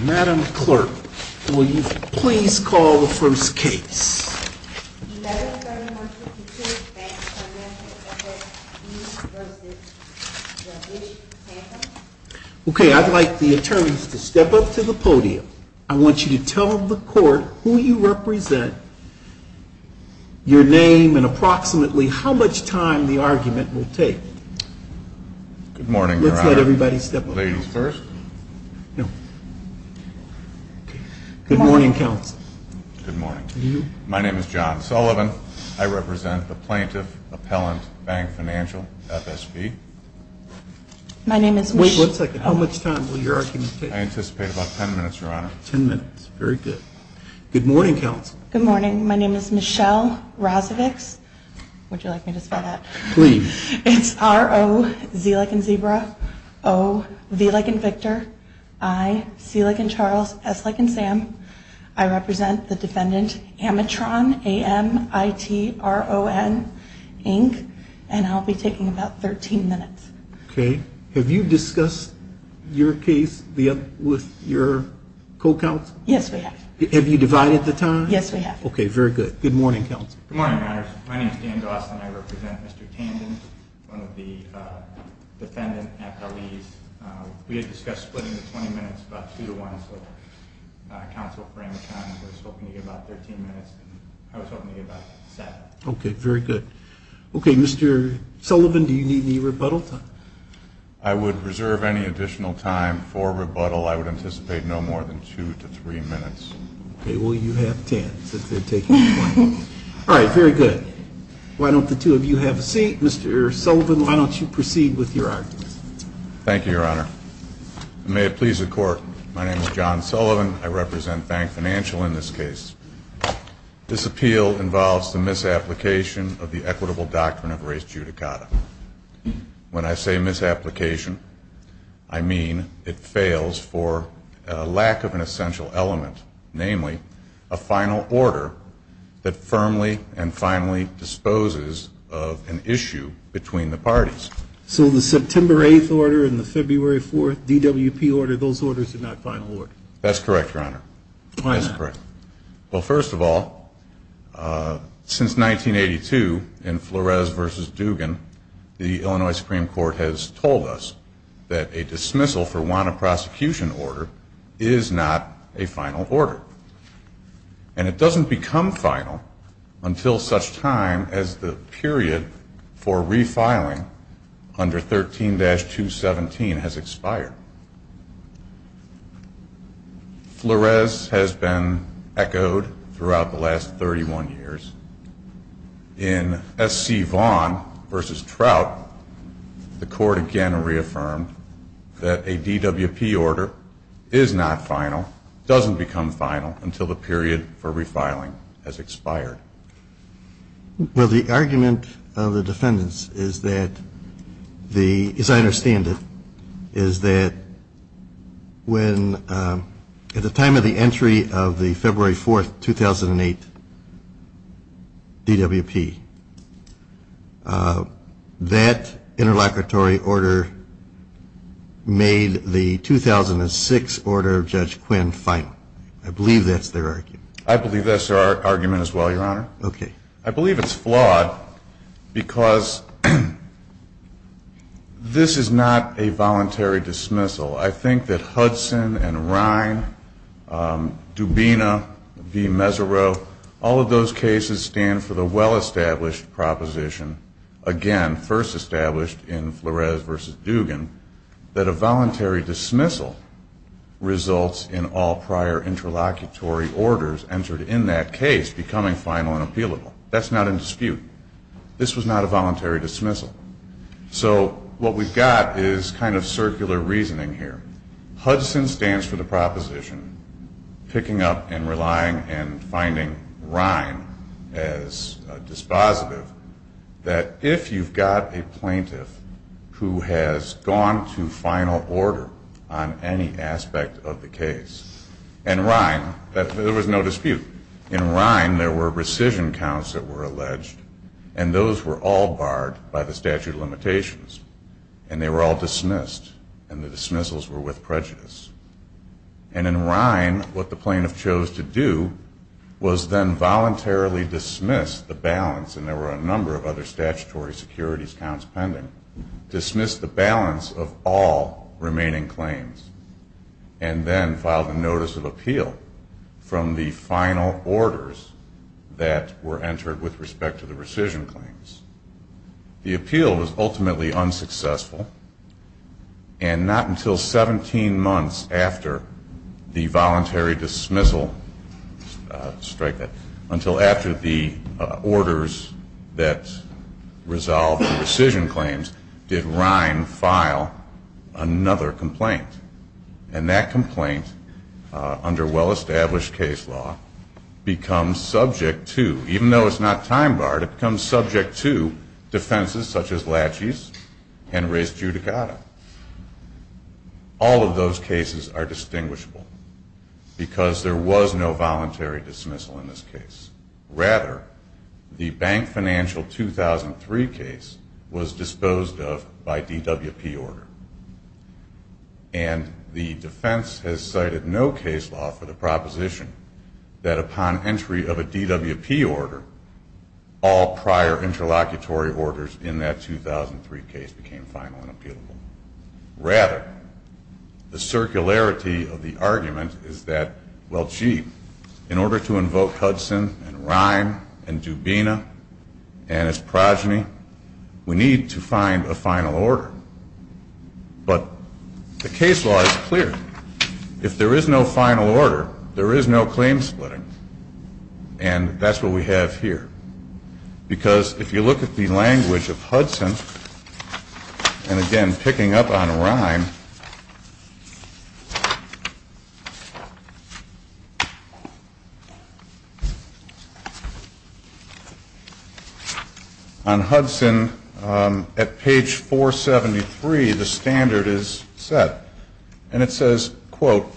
Madam Clerk, will you please call the first case? United Federal Mortgage Securities Bank, FSB v. Tandon Okay, I'd like the attorneys to step up to the podium. I want you to tell the court who you represent, your name, and approximately how much time the argument will take. Good morning, Your Honor. Let everybody step up. Will the ladies first? Good morning, Counsel. Good morning. My name is John Sullivan. I represent the Plaintiff Appellant Bank Financial, FSB. Wait a second. How much time will your argument take? I anticipate about ten minutes, Your Honor. Ten minutes. Very good. Good morning, Counsel. Good morning. My name is Michelle Razovic. Would you like me to say that? Please. It's R-O-V like in zebra, O-V like in Victor, I-C like in Charles, S like in Sam. I represent the defendant, Amitron, A-M-I-T-R-O-N, Inc., and I'll be taking about 13 minutes. Okay. Have you discussed your case with your co-counsel? Yes, we have. Have you divided the time? Yes, we have. Good morning, Counsel. Good morning, Your Honor. My name is Dan Dawson. I represent Mr. Tandon, one of the defendants at the lead. We had discussed splitting the 20 minutes about two to one, so Counsel, for Amitron, I was hoping to get about 13 minutes. I was hoping to get about ten. Okay. Very good. Okay, Mr. Sullivan, do you need any rebuttal time? I would reserve any additional time for rebuttal. I would anticipate no more than two to three minutes. Okay. Well, you have ten because they're taking 20 minutes. All right, very good. Why don't the two of you have a seat? Mr. Sullivan, why don't you proceed with your argument? Thank you, Your Honor. May it please the Court, my name is John Sullivan. I represent Bank Financial in this case. This appeal involves the misapplication of the equitable doctrine of res judicata. When I say misapplication, I mean it fails for a lack of an essential element, namely a final order that firmly and finally disposes of an issue between the parties. So the September 8th order and the February 4th DWP order, those orders are not final orders? That's correct, Your Honor. Why not? Well, first of all, since 1982 in Flores v. Dugan, the Illinois Supreme Court has told us that a dismissal for want of prosecution order is not a final order. And it doesn't become final until such time as the period for refiling under 13-217 has expired. Flores has been echoed throughout the last 31 years. In S.C. Vaughn v. Trout, the Court again reaffirmed that a DWP order is not final, doesn't become final until the period for refiling has expired. Well, the argument of the defendants is that, as I understand it, is that at the time of the entry of the February 4th, 2008 DWP, that interlocutory order made the 2006 order of Judge Quinn final. I believe that's their argument. I believe that's their argument as well, Your Honor. Okay. I believe it's flawed because this is not a voluntary dismissal. I think that Hudson and Rhine, Dubina v. Mesereau, all of those cases stand for the well-established proposition, again, first established in Flores v. Dugan, that a voluntary dismissal results in all prior interlocutory orders entered in that case becoming final and appealable. That's not in dispute. This was not a voluntary dismissal. So what we've got is kind of circular reasoning here. Hudson stands for the proposition, picking up and relying and finding Rhine as dispositive, that if you've got a plaintiff who has gone to final order on any aspect of the case, in Rhine there was no dispute. In Rhine there were rescission counts that were alleged, and those were all barred by the statute of limitations, and they were all dismissed, and the dismissals were with prejudice. And in Rhine what the plaintiff chose to do was then voluntarily dismiss the balance, and there were a number of other statutory securities counts pending, dismiss the balance of all remaining claims, and then file the notice of appeal from the final orders that were entered with respect to the rescission claims. The appeal was ultimately unsuccessful, and not until 17 months after the voluntary dismissal, strike that, until after the orders that resolved the rescission claims did Rhine file another complaint. And that complaint, under well-established case law, becomes subject to, even though it's not time-barred, it becomes subject to defenses such as laches and res judicata. All of those cases are distinguishable because there was no voluntary dismissal in this case. Rather, the bank financial 2003 case was disposed of by DWP order, and the defense has cited no case law for the proposition that upon entry of a DWP order, all prior interlocutory orders in that 2003 case became final and appealable. Rather, the circularity of the argument is that, well, gee, in order to invoke Hudson and Rhine and Dubina and his progeny, we need to find a final order. But the case law is clear. If there is no final order, there is no claim splitting. And that's what we have here. Because if you look at the language of Hudson, and again, picking up on Rhine, on Hudson, at page 473, the standard is set. And it says, quote, Hudson,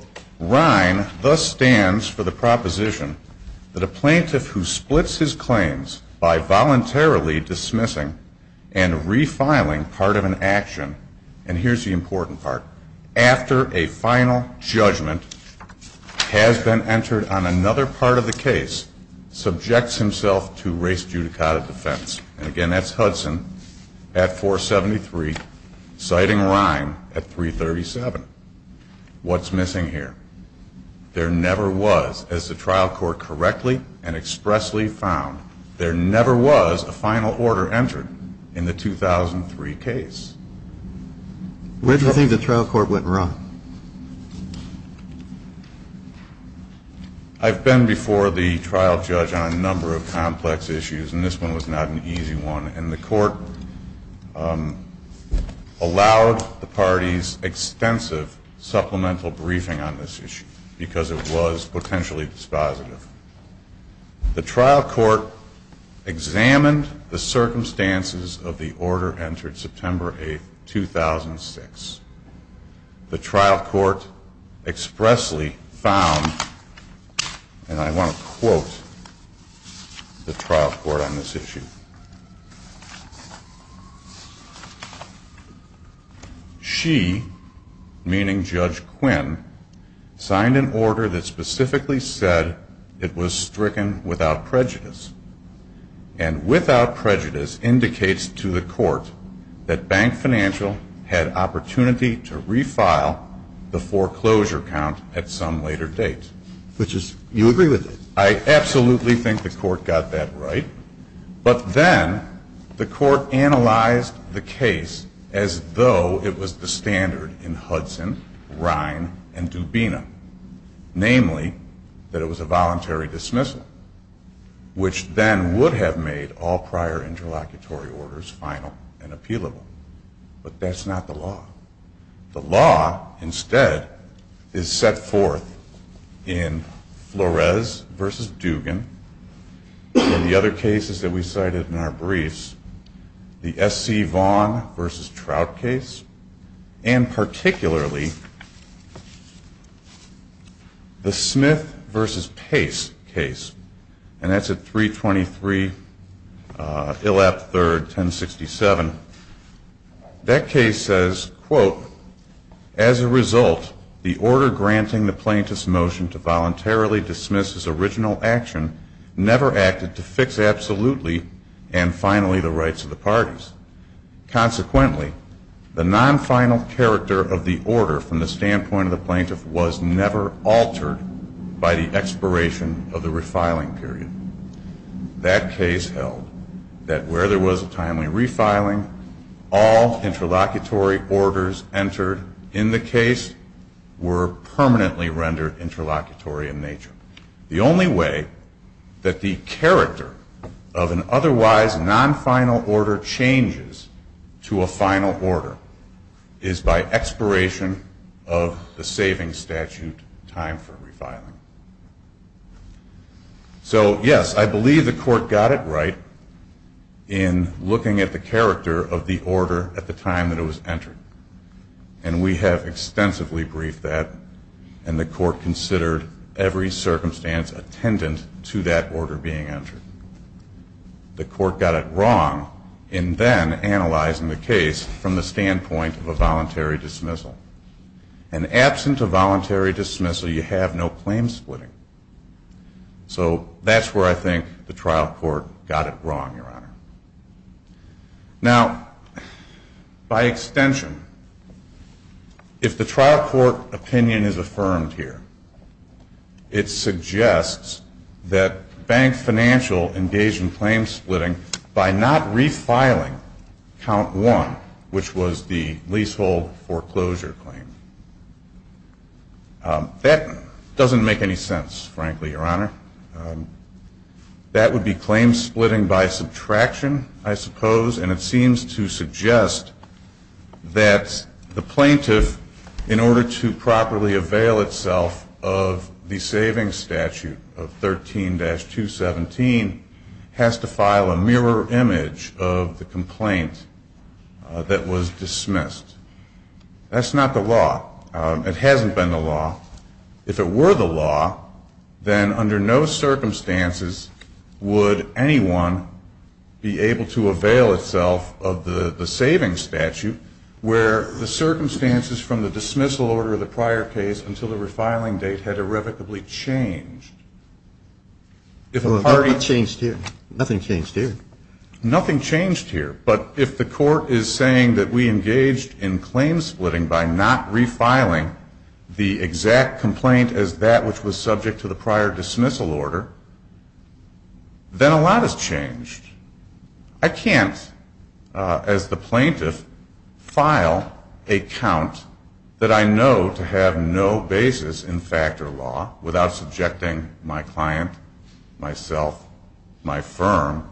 at 473, citing Rhine at 337. What's missing here? There never was, as the trial court correctly and expressly found, there never was a final order entered in the 2003 case. Where do you think the trial court went wrong? I've been before the trial judge on a number of complex issues, and this one was not an easy one. And the court allowed the parties extensive supplemental briefing on this issue, because it was potentially dispositive. The trial court examined the circumstances of the order entered September 8, 2006. The trial court expressly found, and I want to quote the trial court on this issue. She, meaning Judge Quinn, signed an order that specifically said it was stricken without prejudice. And without prejudice indicates to the court that Bank Financial had opportunity to refile the foreclosure count at some later date. Which is, you agree with it? I absolutely think the court got that right. But then the court analyzed the case as though it was the standard in Hudson, Rhine, and Dubena. Namely, that it was a voluntary dismissal, which then would have made all prior interlocutory orders final and appealable. But that's not the law. The law, instead, is set forth in Flores v. Dugan, and the other cases that we cited in our briefs. The S.C. Vaughn v. Trout case, and particularly the Smith v. Pace case. And that's at 323 Hill F. 3rd, 1067. That case says, quote, As a result, the order granting the plaintiff's motion to voluntarily dismiss his original action never acted to fix absolutely, and finally, the rights of the parties. Consequently, the non-final character of the order from the standpoint of the plaintiff was never altered by the expiration of the refiling period. That case held that where there was a timely refiling, all interlocutory orders entered in the case were permanently rendered interlocutory in nature. The only way that the character of an otherwise non-final order changes to a final order is by expiration of the saving statute time for refiling. So, yes, I believe the court got it right in looking at the character of the order at the time that it was entered. And we have extensively briefed that, and the court considered every circumstance attendant to that order being entered. The court got it wrong in then analyzing the case from the standpoint of a voluntary dismissal. And absent a voluntary dismissal, you have no claim splitting. So that's where I think the trial court got it wrong, Your Honor. Now, by extension, if the trial court opinion is affirmed here, it suggests that bank financial engaged in claim splitting by not refiling count one, which was the leasehold foreclosure claim. That doesn't make any sense, frankly, Your Honor. That would be claim splitting by subtraction, I suppose, and it seems to suggest that the plaintiff, in order to properly avail itself of the saving statute of 13-217, has to file a mirror image of the complaint that was dismissed. That's not the law. It hasn't been the law. If it were the law, then under no circumstances would anyone be able to avail itself of the saving statute where the circumstances from the dismissal order of the prior case until the refiling date had irrevocably changed. Nothing changed here. Nothing changed here. But if the court is saying that we engaged in claim splitting by not refiling the exact complaint as that which was subject to the prior dismissal order, then a lot has changed. I can't, as the plaintiff, file a count that I know to have no basis in factor law without subjecting my client, myself, my firm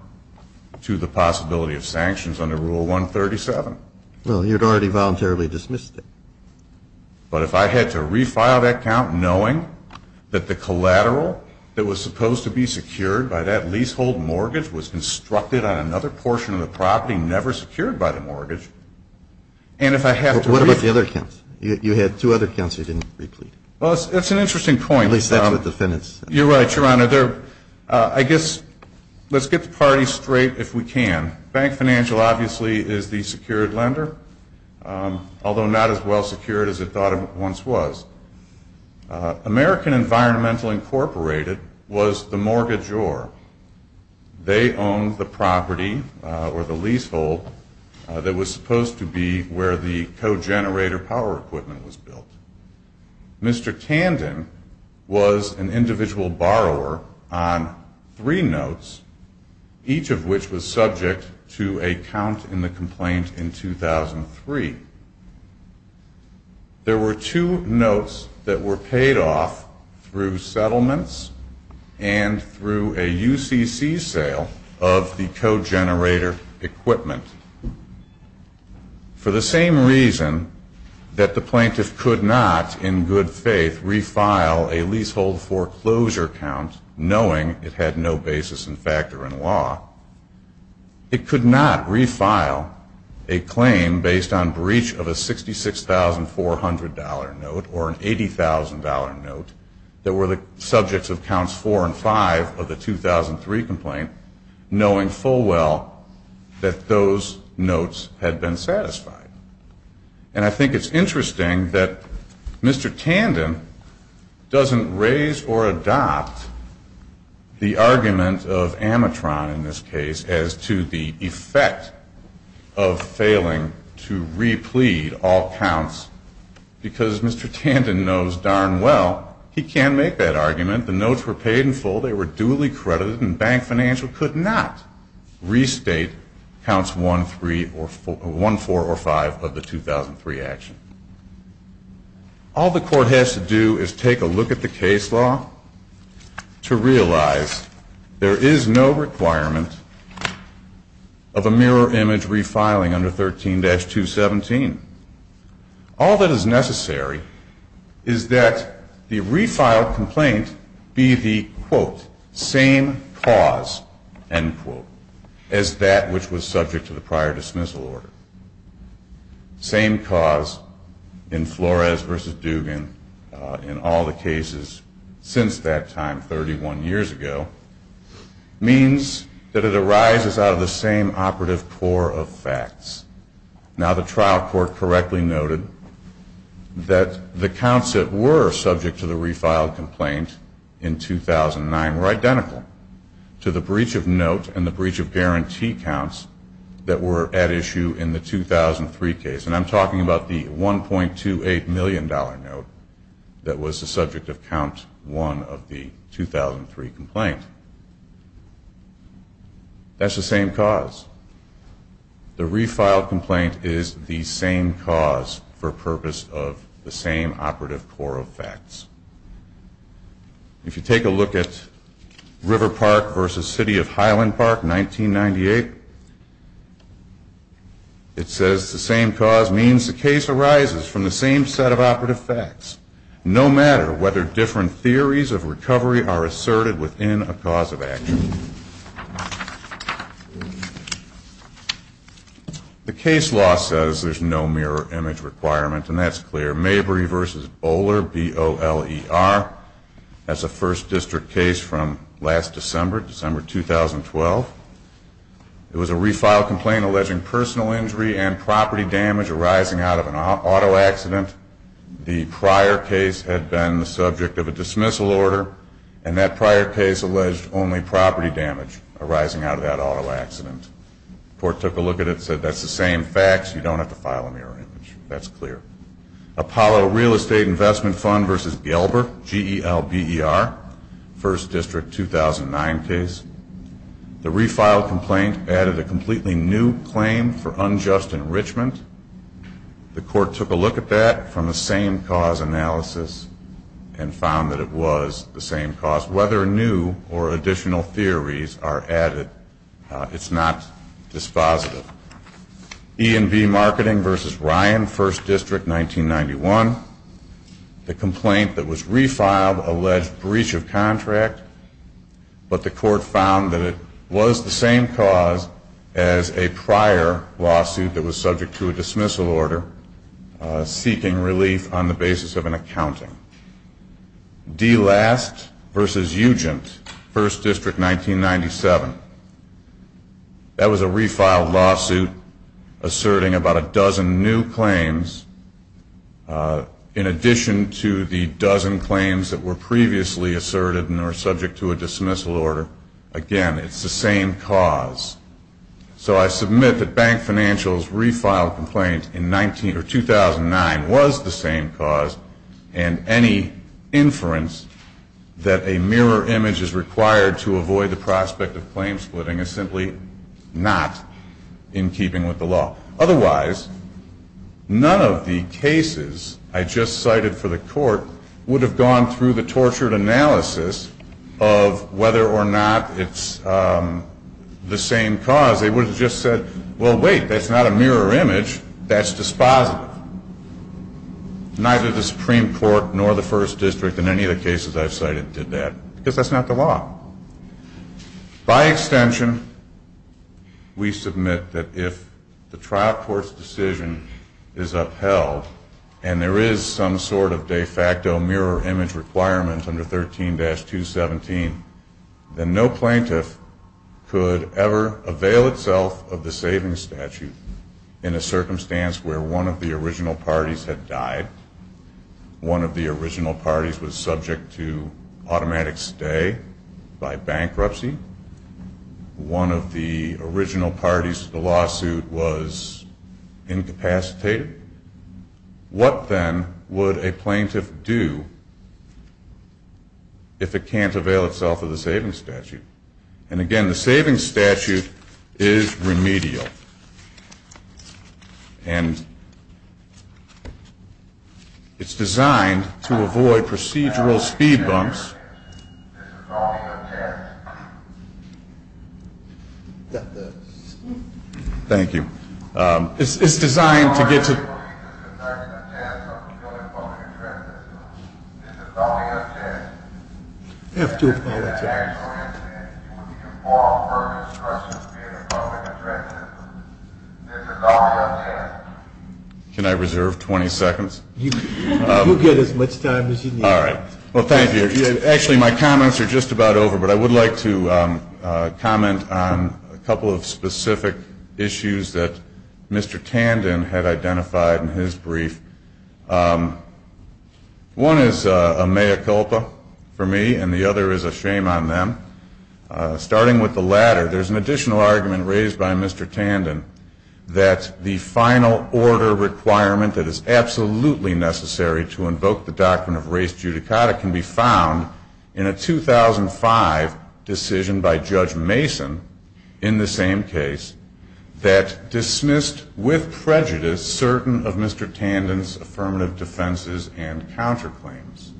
to the possibility of sanctions under Rule 137. Well, you'd already voluntarily dismissed it. But if I had to refile that count knowing that the collateral that was supposed to be secured by that leasehold mortgage was constructed on another portion of the property never secured by the mortgage, and if I had to... What about the other counts? You had two other counts you didn't replete. Well, that's an interesting point. You're right, Your Honor. I guess let's get the party straight if we can. Bank Financial obviously is the secured lender, although not as well secured as it thought it once was. American Environmental Incorporated was the mortgagor. They owned the property or the leasehold that was supposed to be where the co-generator power equipment was built. Mr. Tandon was an individual borrower on three notes, each of which was subject to a count in the complaint in 2003. There were two notes that were paid off through settlements and through a UCC sale of the co-generator equipment. For the same reason that the plaintiff could not, in good faith, refile a leasehold foreclosure count knowing it had no basis in fact or in law, it could not refile a claim based on breach of a $66,400 note or an $80,000 note that were the subjects of counts four and five of the 2003 complaint, knowing full well that those notes had been satisfied. And I think it's interesting that Mr. Tandon doesn't raise or adopt the argument of Amatron in this case as to the effect of failing to replete all counts because Mr. Tandon knows darn well he can't make that argument. The notes were paid in full, they were duly credited, and Bank Financial could not restate counts one, four, or five of the 2003 action. All the court has to do is take a look at the case law to realize there is no requirement of a mirror image refiling under 13-217. All that is necessary is that the refiled complaint be the, quote, same cause, end quote, as that which was subject to the prior dismissal order. Same cause in Flores v. Dugan, in all the cases since that time 31 years ago, means that it arises out of the same operative core of facts. Now the trial court correctly noted that the counts that were subject to the refiled complaint in 2009 were identical to the breach of note and the breach of guarantee counts that were at issue in the 2003 case. And I'm talking about the $1.28 million note that was the subject of count one of the 2003 complaint. That's the same cause. The refiled complaint is the same cause for purpose of the same operative core of facts. If you take a look at River Park v. City of Highland Park, 1998, it says the same cause means the case arises from the same set of operative facts, no matter whether different theories of recovery are asserted within a cause of action. The case law says there's no mirror image requirement, and that's clear. Mabry v. Bowler, B-O-L-E-R, that's a first district case from last December, December 2012. It was a refiled complaint alleging personal injury and property damage arising out of an auto accident. The prior case had been the subject of a dismissal order, and that prior case alleged only property damage arising out of that auto accident. The court took a look at it and said that's the same facts, you don't have to file a mirror image. That's clear. Apollo Real Estate Investment Fund v. Gelber, G-E-L-B-E-R, first district 2009 case. The refiled complaint added a completely new claim for unjust enrichment. The court took a look at that from a same cause analysis and found that it was the same cause. Whether new or additional theories are added, it's not dispositive. E&V Marketing v. Ryan, first district 1991. The complaint that was refiled alleged breach of contract, but the court found that it was the same cause as a prior lawsuit that was subject to a dismissal order seeking relief on the basis of an accounting. D-Last v. Ugent, first district 1997. That was a refiled lawsuit asserting about a dozen new claims in addition to the dozen claims that were previously asserted and are subject to a dismissal order. Again, it's the same cause. So I submit that Bank Financial's refiled complaint in 2009 was the same cause and any inference that a mirror image is required to avoid the prospect of claim splitting is simply not in keeping with the law. Otherwise, none of the cases I just cited for the court would have gone through the tortured analysis of whether or not it's the same cause. They would have just said, well wait, that's not a mirror image, that's dispositive. Neither the Supreme Court nor the first district in any of the cases I've cited did that. Because that's not the law. By extension, we submit that if the trial court's decision is upheld and there is some sort of de facto mirror image requirement under 13-217, then no plaintiff could ever avail itself of the savings statute in a circumstance where one of the original parties had died, one of the original parties was subject to automatic stay by bankruptcy, one of the original parties to the lawsuit was incapacitated. What then would a plaintiff do if it can't avail itself of the savings statute? And again, the savings statute is remedial. And it's designed to avoid procedural speed bumps. Can I reserve 20 seconds? You get as much time as you need. All right. Well, thank you. Actually, my comments are just about over, but I would like to comment on a couple of specific issues that Mr. Tandon had identified in his brief. One is a mea culpa for me, and the other is a shame on them. Starting with the latter, there's an additional argument raised by Mr. Tandon that the final order requirement that is absolutely necessary to invoke the Doctrine of Race Judicata can be found in a 2005 decision by Judge Mason in the same case that dismissed with prejudice certain of Mr. Tandon's affirmative defenses and counterclaims.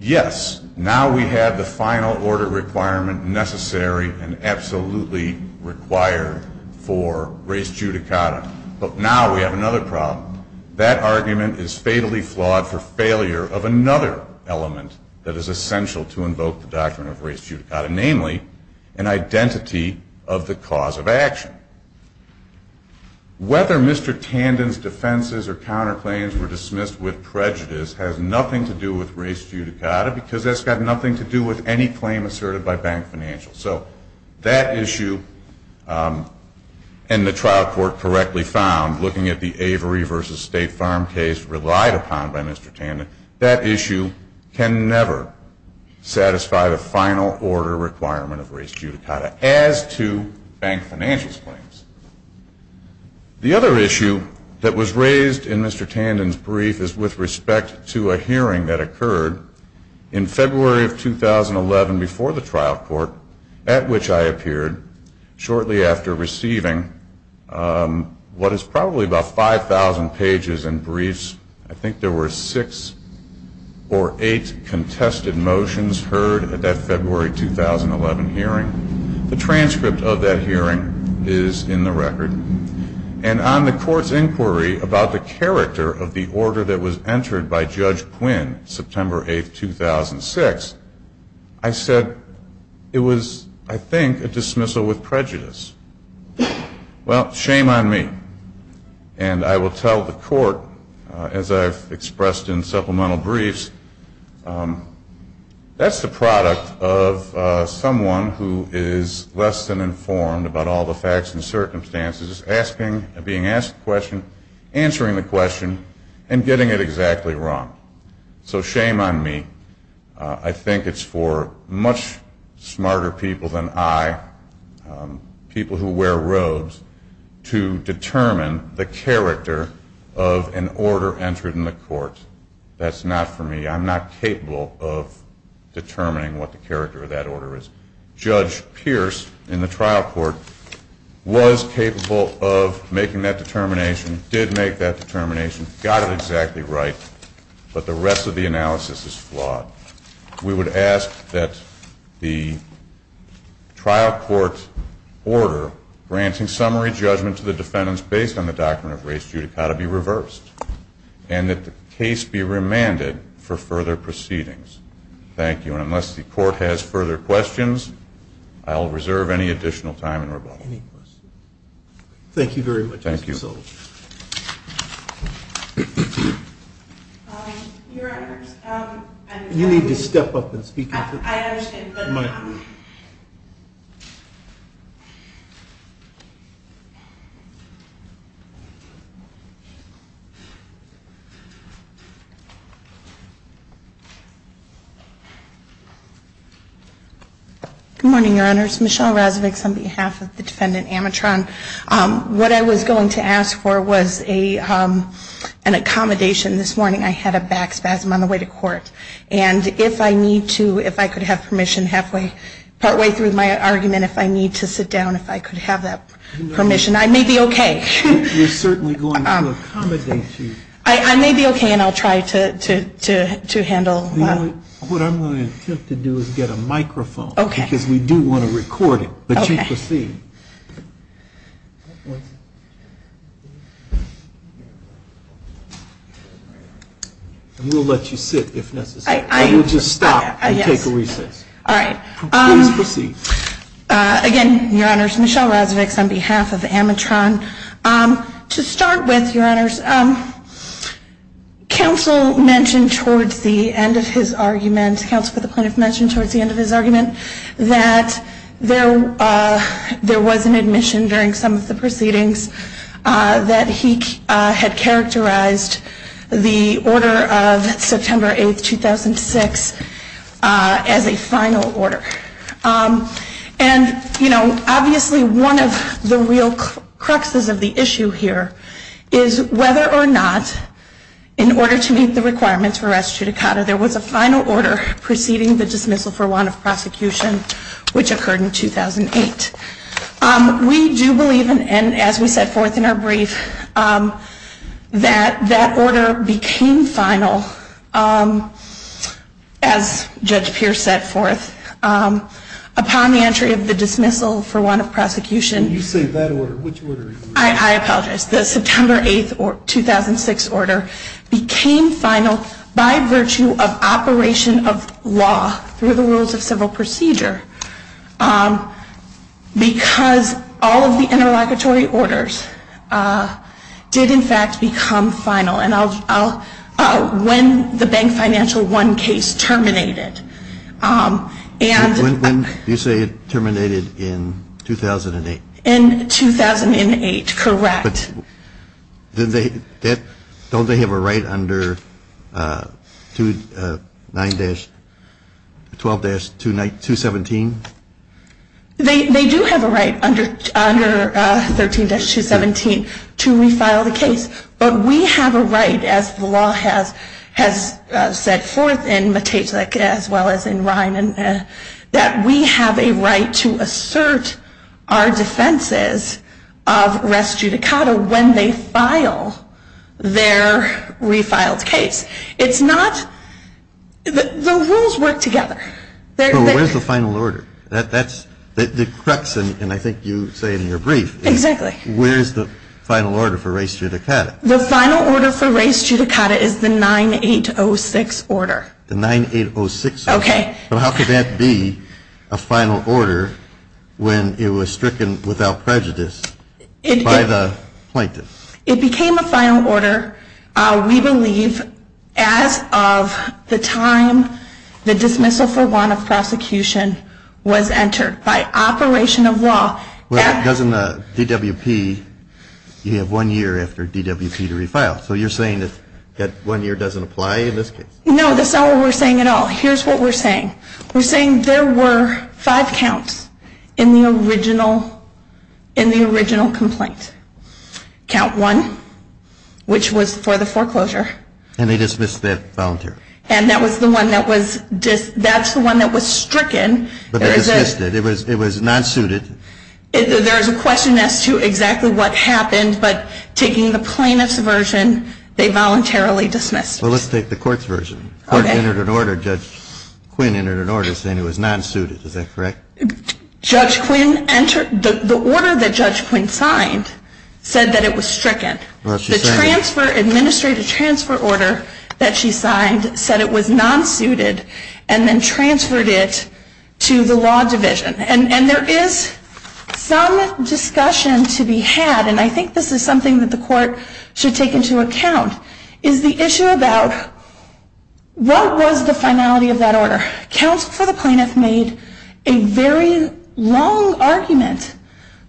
Yes, now we have the final order requirement necessary and absolutely required for race judicata. But now we have another problem. That argument is fatally flawed for failure of another element that is essential to invoke the Doctrine of Race Judicata, namely an identity of the cause of action. Whether Mr. Tandon's defenses or counterclaims were dismissed with prejudice has nothing to do with race judicata because that's got nothing to do with any claim asserted by bank financials. So that issue, and the trial court correctly found, looking at the Avery v. State Farm case relied upon by Mr. Tandon, that issue can never satisfy the final order requirement of race judicata as to bank financials claims. The other issue that was raised in Mr. Tandon's brief is with respect to a hearing that occurred in February of 2011 before the trial court at which I appeared shortly after receiving what is probably about 5,000 pages in briefs. I think there were six or eight contested motions heard at that February 2011 hearing. The transcript of that hearing is in the record. And on the court's inquiry about the character of the order that was entered by Judge Quinn, September 8, 2006, I said it was, I think, a dismissal with prejudice. Well, shame on me. And I will tell the court, as I've expressed in supplemental briefs, that's the product of someone who is less than informed about all the facts and circumstances, being asked the question, answering the question, and getting it exactly wrong. So shame on me. I think it's for much smarter people than I, people who wear robes, to determine the character of an order entered in the court. That's not for me. I'm not capable of determining what the character of that order is. Judge Pierce in the trial court was capable of making that determination, did make that determination, got it exactly right, but the rest of the analysis is flawed. We would ask that the trial court's order granting summary judgment to the defendants based on the doctrine of race judicata be reversed, and that the case be remanded for further proceedings. Thank you. And unless the court has further questions, I will reserve any additional time in your budget. Any questions? Thank you very much. Thank you. Your Honor, I'm- You need to step up and speak up. I understand, but- No, please. Good morning, Your Honors. Michelle Razovic on behalf of the defendant Amatron. What I was going to ask for was an accommodation this morning. I had a back spasm on the way to court, and if I need to, if I could have permission, halfway through my argument, if I need to sit down, if I could have that permission, I may be okay. We're certainly going to accommodate you. I may be okay, and I'll try to handle- What I'm going to attempt to do is get a microphone. Okay. Because we do want to record it, but you proceed. We'll let you sit if necessary. You just stop and take a recess. All right. Please proceed. Again, Your Honors, Michelle Razovic on behalf of Amatron. To start with, Your Honors, counsel mentioned towards the end of his argument, counsel for the plaintiff mentioned towards the end of his argument, that there was an admission during some of the proceedings that he had characterized the order of September 8, 2006 as a final order. And, you know, obviously one of the real cruxes of the issue here is whether or not, in order to meet the requirements for res judicata, there was a final order preceding the dismissal for want of prosecution, which occurred in 2008. We do believe, and as we set forth in our brief, that that order became final, as Judge Pierce set forth, upon the entry of the dismissal for want of prosecution. You say that order. Which order are you referring to? I apologize. The September 8, 2006 order became final by virtue of operation of law through the rules of civil procedure, because all of the interlocutory orders did, in fact, become final. When the Bank Financial I case terminated. You say it terminated in 2008. In 2008, correct. Don't they have a right under 12-217? They do have a right under 13-217 to refile the case. But we have a right, as the law has set forth in McKaplick as well as in Ryman, that we have a right to assert our defenses of res judicata when they file their refiled case. It's not, the rules work together. So where's the final order? That's, it preps, and I think you say it in your brief. Exactly. Where's the final order for res judicata? The final order for res judicata is the 9-8-0-6 order. The 9-8-0-6 order. Okay. So how could that be a final order when it was stricken without prejudice by the plaintiffs? It became a final order, we believe, as of the time the dismissal for want of prosecution was entered by operation of law. Well, doesn't the DWP, you have one year after DWP to refile. So you're saying that that one year doesn't apply? No, that's not what we're saying at all. Here's what we're saying. We're saying there were five counts in the original complaint. Count one, which was for the foreclosure. And they dismissed that voluntarily. And that was the one that was, that's the one that was stricken. But they dismissed it. It was non-suited. There's a question as to exactly what happened, but taking the plaintiff's version, they voluntarily dismissed it. Well, let's take the court's version. The court entered an order, Judge Quinn entered an order saying it was non-suited. Is that correct? Judge Quinn entered, the order that Judge Quinn signed said that it was stricken. The transfer, administrative transfer order that she signed said it was non-suited and then transferred it to the law division. And there is some discussion to be had, and I think this is something that the court should take into account, is the issue about what was the finality of that order. Counsel for the plaintiff made a very long argument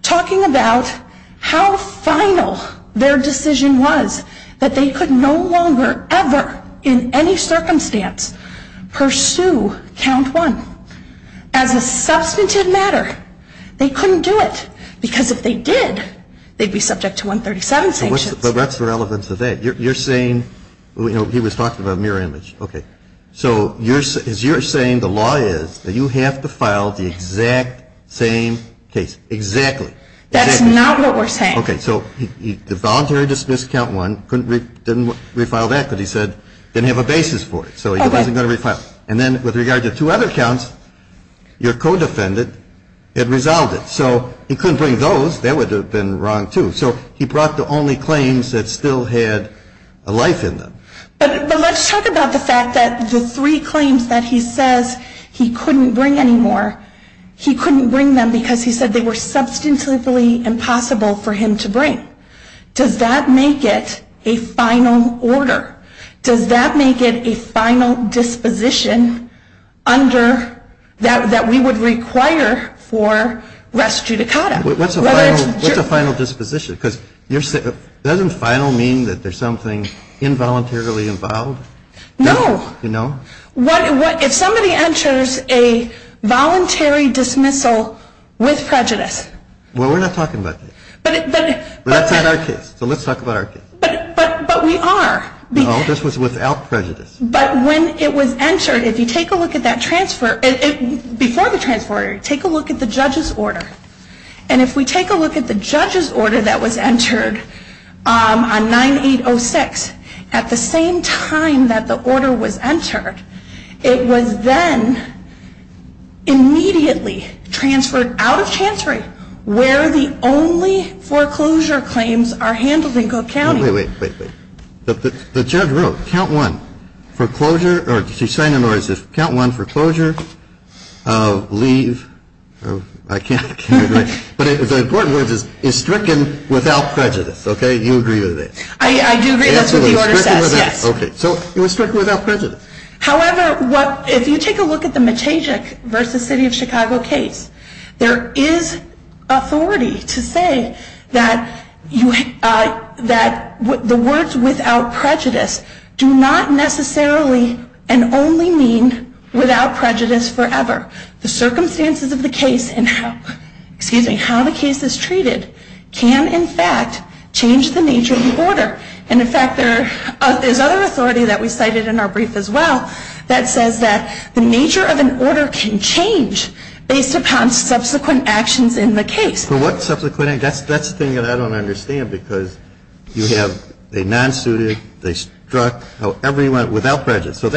talking about how final their decision was, that they could no longer ever in any circumstance pursue count one. As a substantive matter, they couldn't do it because if they did, they'd be subject to 137 sanctions. But that's the relevance of that. You're saying, you know, he was talking about a mirror image. Okay. So, as you're saying, the law is that you have to file the exact same case. Exactly. That is not what we're saying. Okay. So, he voluntarily dismissed count one, didn't refile that because he said he didn't have a basis for it. So, he wasn't going to refile it. And then, with regard to two other counts, your codefendant had resolved it. So, he couldn't bring those. They would have been wrong, too. So, he brought the only claims that still had a life in them. But let's talk about the fact that the three claims that he says he couldn't bring anymore, he couldn't bring them because he said they were substantively impossible for him to bring. Does that make it a final order? Does that make it a final disposition that we would require for rest judicata? What's a final disposition? Doesn't final mean that there's something involuntarily involved? No. You know? If somebody enters a voluntary dismissal with prejudice. Well, we're not talking about this. But that's in our case. So, let's talk about our case. But we are. No, this was without prejudice. But when it was entered, if you take a look at that transfer, before the transfer order, take a look at the judge's order. And if we take a look at the judge's order that was entered on 9806, at the same time that the order was entered, it was then immediately transferred out of Chantry where the only foreclosure claims are handled in Cook County. Wait, wait, wait. The judge wrote, count one, foreclosure, or she's saying in other words, count one foreclosure, leave. I can't read it. But the important word is stricken without prejudice. Okay? You agree with that? I do agree with the order. Okay. So, it was stricken without prejudice. However, if you take a look at the Matajek v. City of Chicago case, there is authority to say that the words without prejudice do not necessarily and only mean without prejudice forever. The circumstances of the case and how the case is treated can, in fact, change the nature of the order. And, in fact, there's another authority that we cited in our brief as well that says that the nature of an order can change based upon subsequent actions in the case. Well, what subsequent? That's the thing that I don't understand because you have a non-suited, a struck, however you want, without prejudice. So,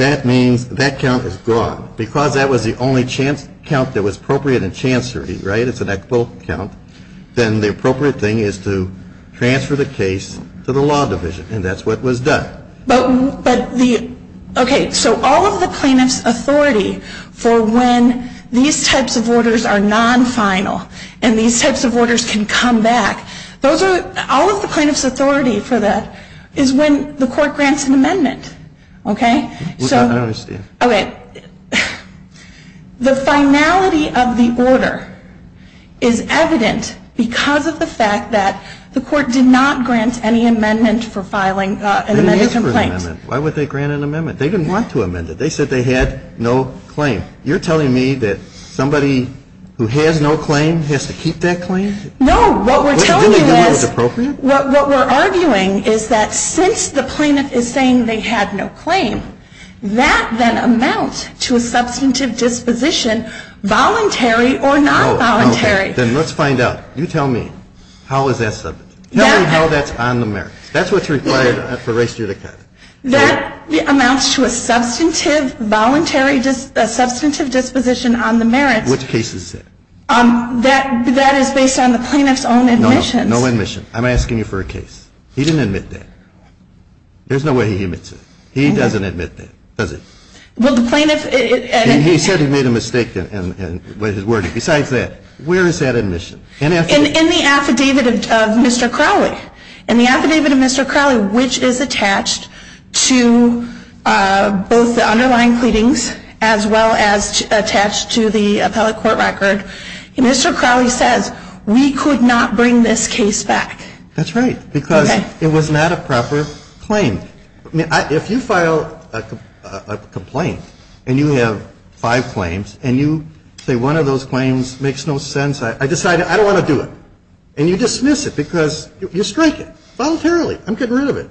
that means that count is gone. Because that was the only count that was appropriate in Chantry, right? If it's an equitable count, then the appropriate thing is to transfer the case to the law division. And that's what was done. Okay. So, all of the plaintiff's authority for when these types of orders are non-final and these types of orders can come back, all of the plaintiff's authority for that is when the court grants an amendment. Okay? I don't understand. Okay. The finality of the order is evident because of the fact that the court did not grant any amendment for filing an amended complaint. Why would they grant an amendment? They didn't want to amend it. They said they had no claim. You're telling me that somebody who has no claim has to keep that claim? No. What we're arguing is that since the plaintiff is saying they have no claim, that then amounts to a substantive disposition, voluntary or non-voluntary. Okay. Then let's find out. You tell me. How is that substantive? Tell me how that's on the merits. That's what's required for race judicature. That amounts to a substantive, voluntary, substantive disposition on the merits. Which case is that? That is based on the plaintiff's own admission. No. No admission. I'm asking you for a case. He didn't admit that. There's no way he admits it. He doesn't admit that, does he? He said he made a mistake in his wording. Besides that, where is that admission? In the affidavit of Mr. Crowley. In the affidavit of Mr. Crowley, which is attached to both the underlying pleadings as well as attached to the appellate court record, Mr. Crowley says, we could not bring this case back. That's right, because it was not a proper claim. If you file a complaint and you have five claims and you say one of those claims makes no sense, I decide I don't want to do it, and you dismiss it because you strike it voluntarily. I'm getting rid of it.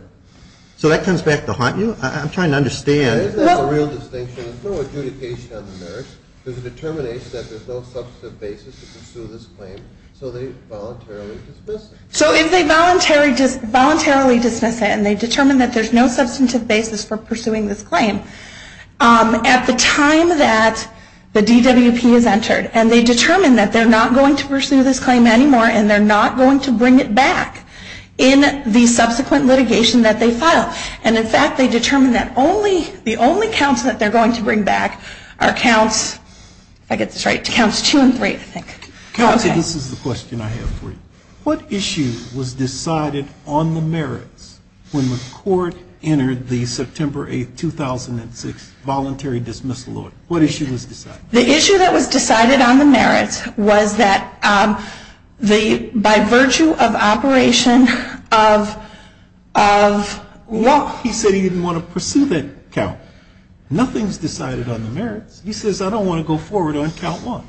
So that turns back to haunt you? I'm trying to understand. There's no distinction. There's no adjudication on the merits. There's a determination that there's no substantive basis to pursue this claim, so they voluntarily dismiss it. So if they voluntarily dismiss it and they determine that there's no substantive basis for pursuing this claim, at the time that the DWP is entered and they determine that they're not going to pursue this claim anymore and they're not going to bring it back in the subsequent litigation that they file, and, in fact, they determine that the only counts that they're going to bring back are counts two and three, I think. Kathy, this is the question I have for you. What issue was decided on the merits when the court entered the September 8, 2006, voluntary dismissal order? What issue was decided? The issue that was decided on the merits was that by virtue of operation of what? He said he didn't want to pursue that count. Nothing's decided on the merits. He says, I don't want to go forward on count one.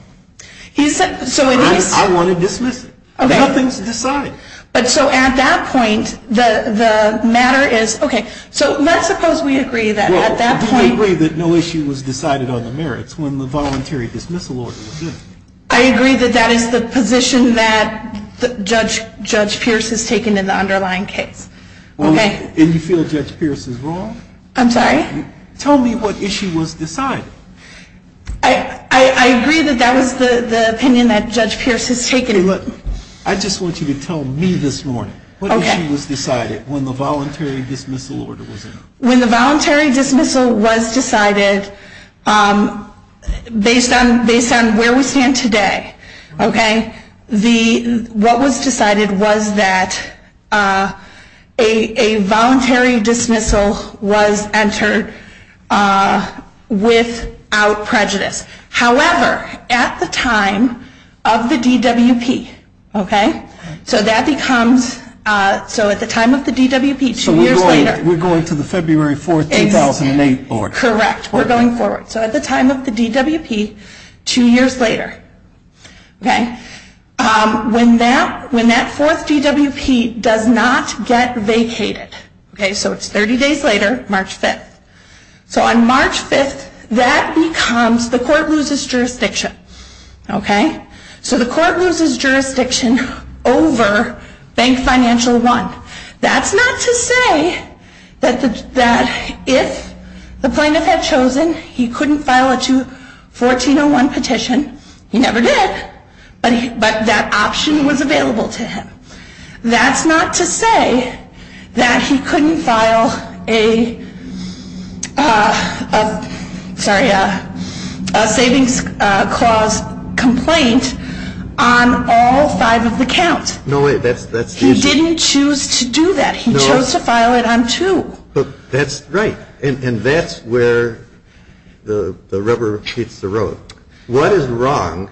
I want to dismiss it. Nothing's decided. So at that point, the matter is, okay, so let's suppose we agree that at that point Well, do we agree that no issue was decided on the merits when the voluntary dismissal order was issued? I agree that that is the position that Judge Pierce has taken in the underlying case. And you feel Judge Pierce is wrong? I'm sorry? Tell me what issue was decided. I agree that that was the opinion that Judge Pierce has taken. I just want you to tell me this morning. What issue was decided when the voluntary dismissal order was issued? When the voluntary dismissal was decided, based on where we stand today, okay, However, at the time of the DWP, okay? So that becomes, so at the time of the DWP, two years later. So we're going to the February 4, 2008 order. Correct. We're going forward. So at the time of the DWP, two years later, okay? When that fourth DWP does not get vacated, okay, so it's 30 days later, March 5th. So on March 5th, that becomes, the court loses jurisdiction, okay? So the court loses jurisdiction over Bank Financial 1. That's not to say that if the plaintiff had chosen he couldn't file a 1401 petition, he never did, but that option was available to him. That's not to say that he couldn't file a, sorry, a savings clause complaint on all five of the counts. No way, that's easy. He didn't choose to do that. He chose to file it on two. That's right. And that's where the rubber meets the road. What is wrong,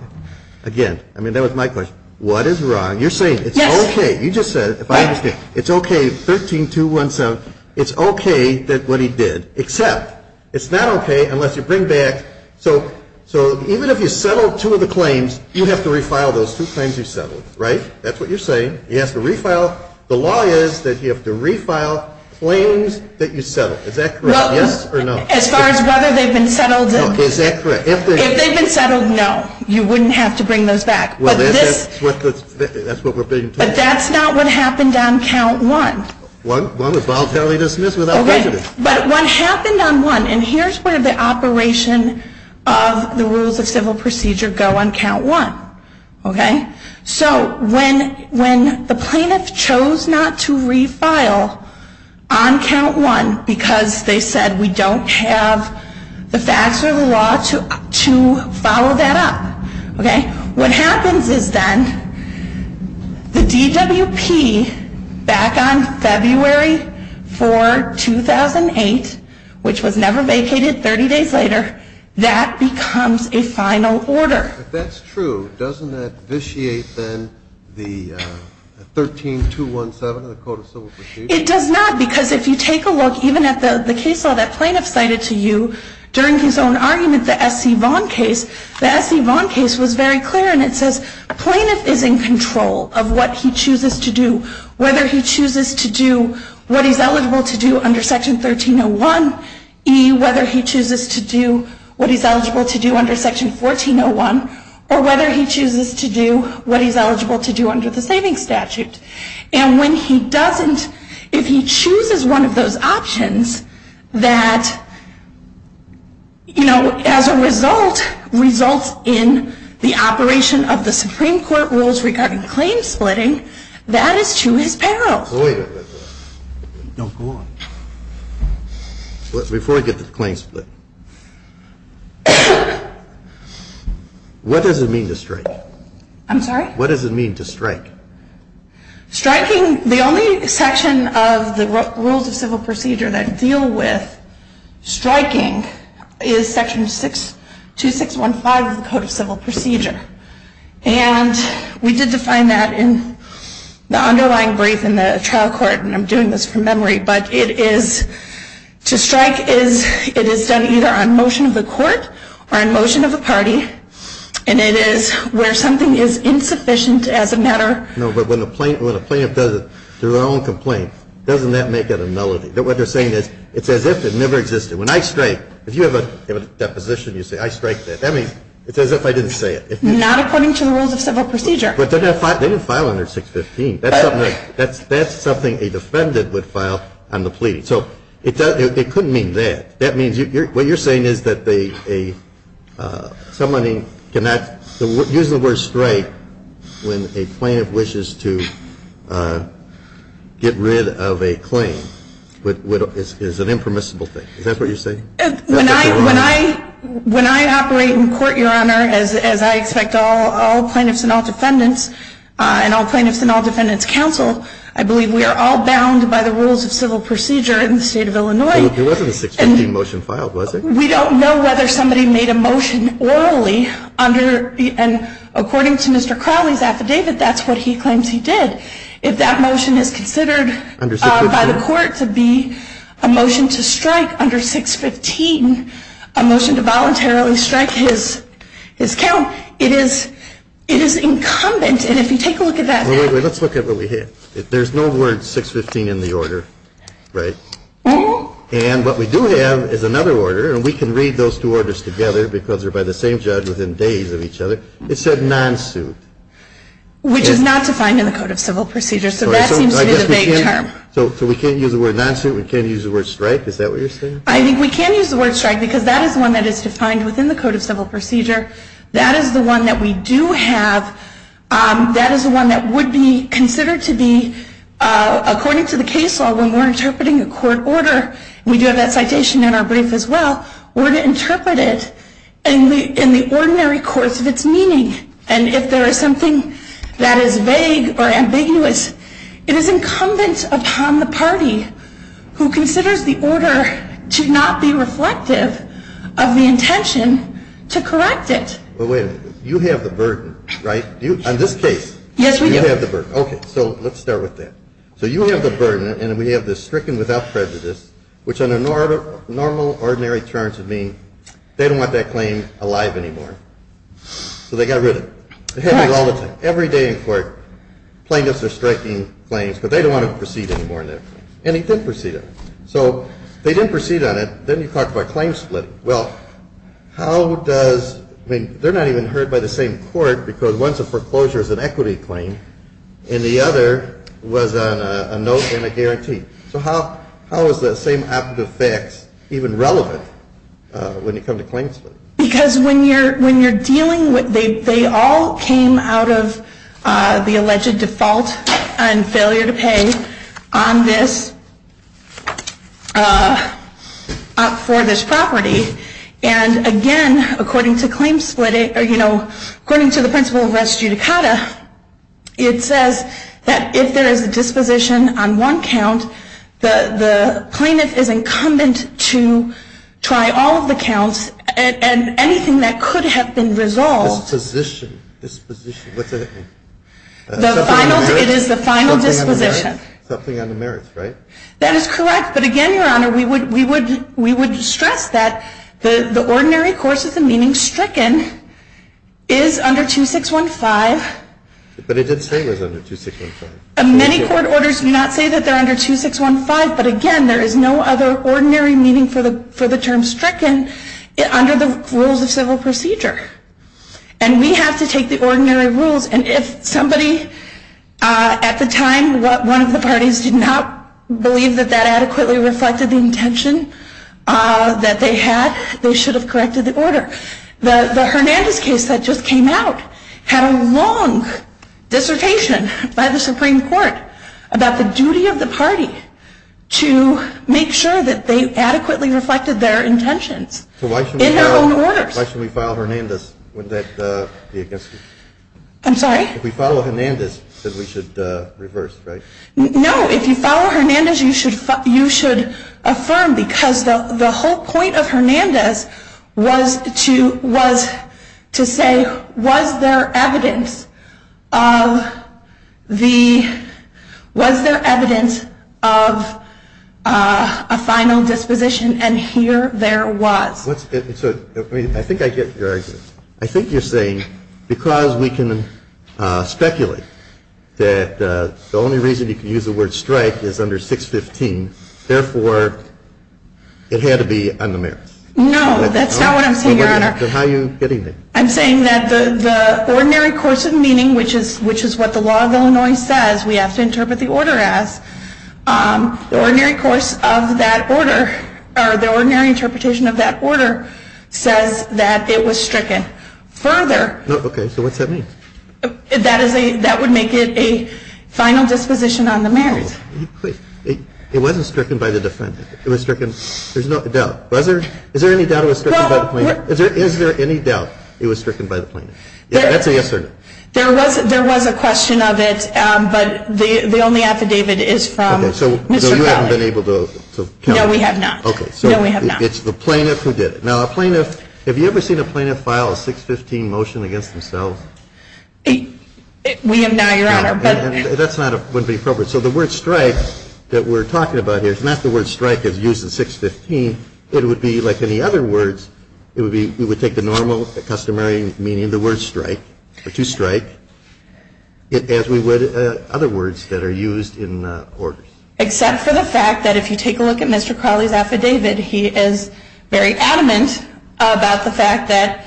again, I mean that was my question, what is wrong? You're saying it's okay. You just said it. It's okay, 13217, it's okay that what he did, except it's not okay unless you bring back, so even if you settle two of the claims, you have to refile those two claims you settled, right? That's what you're saying. You have to refile. The law is that you have to refile claims that you settled. Is that correct, yes or no? Well, as far as whether they've been settled, if they've been settled, no, you wouldn't have to bring those back. That's what we're being told. But that's not what happened on count one. One was voluntarily dismissed without prejudice. Okay, but what happened on one, and here's where the operation of the Rules of Civil Procedure go on count one, okay? So when the plaintiff chose not to refile on count one because they said we don't have the facts or the law to follow that up, what happens is then the DWP back on February 4, 2008, which was never vacated 30 days later, that becomes a final order. But that's true. Doesn't that vitiate then the 13217, the Code of Civil Procedure? It does not because if you take a look even at the case file that the plaintiff cited to you during his own argument, the F.C. Vaughn case, the F.C. Vaughn case was very clear, and it says plaintiff is in control of what he chooses to do, whether he chooses to do what he's eligible to do under Section 1301E, whether he chooses to do what he's eligible to do under Section 1401, or whether he chooses to do what he's eligible to do under the Savings Statute. And when he doesn't, if he chooses one of those options that, you know, as a result, results in the operation of the Supreme Court rules regarding claim splitting, that is to his peril. Wait a minute. No, go on. Before we get to claim split, what does it mean to strike? I'm sorry? What does it mean to strike? Striking, the only section of the Rules of Civil Procedure that deal with striking is Section 2615 of the Code of Civil Procedure. And we did define that in the underlying brief in the trial court, and I'm doing this from memory, but it is, to strike is, it is done either on motion of the court or on motion of a party, and it is where something is insufficient as a matter. No, but when the plaintiff does it through their own complaint, doesn't that make it a nullity? What they're saying is it's as if it never existed. When I strike, if you have a deposition, you say, I strike that. I mean, it's as if I didn't say it. Not according to the Rules of Civil Procedure. But they didn't file under 615. That's something a defendant would file on the plea. So it couldn't mean that. That means what you're saying is that someone cannot use the word strike when a plaintiff wishes to get rid of a claim. It's an impermissible thing. Is that what you're saying? When I operate in court, Your Honor, as I expect all plaintiffs and all defendants, and all plaintiffs and all defendants counsel, I believe we are all bound by the Rules of Civil Procedure in the state of Illinois. It wasn't a 615 motion filed, was it? We don't know whether somebody made a motion orally, and according to Mr. Crowley's affidavit, that's what he claims he did. If that motion is considered by the court to be a motion to strike under 615, a motion to voluntarily strike his count, it is incumbent. And if you take a look at that. Let's look at what we have. There's no word 615 in the order, right? And what we do have is another order, and we can read those two orders together because they're by the same judge within days of each other. It said non-sue. Which is not defined in the Code of Civil Procedure, so that seems like a vague term. So we can't use the word non-sue? We can't use the word strike? Is that what you're saying? I think we can use the word strike because that is one that is defined within the Code of Civil Procedure. That is the one that we do have. That is the one that would be considered to be, according to the case law, when we're interpreting a court order, we do have that citation in our brief as well, we're going to interpret it in the ordinary course of its meaning. And if there is something that is vague or ambiguous, it is incumbent upon the party who considers the order to not be reflective of the intention to correct it. But wait a minute. You have the burden, right? On this case, you have the burden. Okay, so let's start with that. So you have the burden, and we have this stricken without prejudice, which under normal, ordinary terms would mean they don't want that claim alive anymore. So they got rid of it. They have it all the time. Every day in court, plaintiffs are striking claims, but they don't want to proceed anymore with it. And they did proceed it. So they didn't proceed on it. Then you talk about claim split. Well, how does, I mean, they're not even heard by the same court, because once a foreclosure is an equity claim, and the other was a note and a guarantee. So how is that same active effect even relevant when you come to claim split? Because when you're dealing with, they all came out of the alleged default and failure to pay on this, for this property. And, again, according to claim split, or, you know, according to the principle of res judicata, it says that if there is a disposition on one count, the plaintiff is incumbent to try all of the counts, and anything that could have been resolved. Disposition. It is the final disposition. Something on the merits, right? That is correct. But, again, Your Honor, we would stress that the ordinary course of the meaning stricken is under 2615. But it did say it was under 2615. Many court orders do not say that they're under 2615, but, again, there is no other ordinary meaning for the term stricken under the rules of civil procedure. And we have to take the ordinary rules. And if somebody at the time, one of the parties, did not believe that that adequately reflected the intention that they had, they should have corrected the order. The Hernandez case that just came out had a long dissertation by the Supreme Court about the duty of the party to make sure that they adequately reflected their intention in their own order. So why should we file Hernandez when that's the against you? I'm sorry? If we file Hernandez, then we should reverse, right? No, if you file Hernandez, you should affirm, because the whole point of Hernandez was to say, was there evidence of a final disposition, and here there was. I think I get your argument. I think you're saying because we can speculate that the only reason you can use the word strike is under 615, therefore, it had to be on the merits. No, that's not what I'm saying, Your Honor. Then how are you getting there? I'm saying that the ordinary course of meaning, which is what the law of Illinois says we have to interpret the order as, the ordinary course of that order, or the ordinary interpretation of that order, says that it was stricken. Further... Okay, so what's that mean? That would make it a final disposition on the merits. It wasn't stricken by the defendant. It was stricken, there's no doubt. Is there any doubt it was stricken by the plaintiff? Is there any doubt it was stricken by the plaintiff? Yes or no? There was a question of it, but the only affidavit is from Mr. Fowler. Okay, so you haven't been able to... No, we have not. Okay, so it's the plaintiff who did it. Now, a plaintiff, have you ever seen a plaintiff file a 615 motion against himself? We have not, Your Honor. That's not appropriate. So the word strike that we're talking about here is not the word strike that's used in 615. It would be like any other words. We would take the normal customary meaning of the word strike, which is strike, as we would other words that are used in the order. Except for the fact that if you take a look at Mr. Crowley's affidavit, he is very adamant about the fact that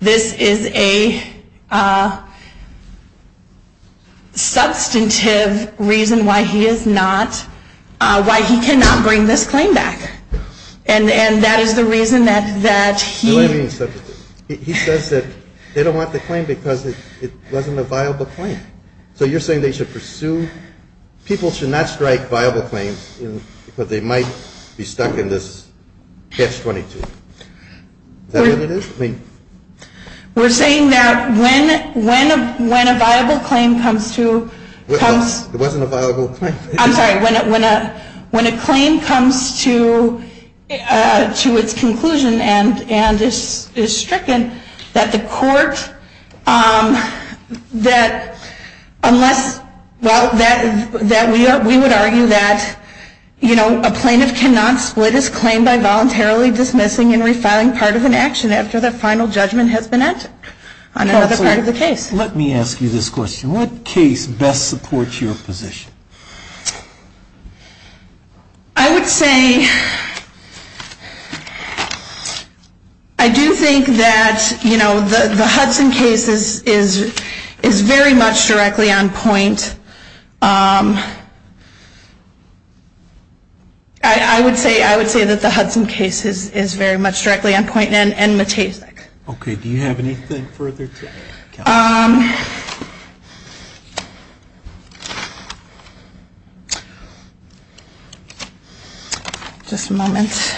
this is a substantive reason why he is not, why he cannot bring this claim back. And that is the reason that he... He says that they don't want the claim because it wasn't a viable claim. So you're saying they should pursue... People should not strike viable claims because they might be stuck in this catch-22. Is that what it is? We're saying that when a viable claim comes to... It wasn't a viable claim. I'm sorry, when a claim comes to its conclusion and is stricken, that the court, that unless... We would argue that a plaintiff cannot split his claim by voluntarily dismissing and resigning part of an action after the final judgment has been answered on another part of the case. Let me ask you this question. What case best supports your position? I would say... I do think that the Hudson case is very much directly on point. I would say that the Hudson case is very much directly on point and metastatic. Okay, do you have anything further to add? Okay. Just a moment.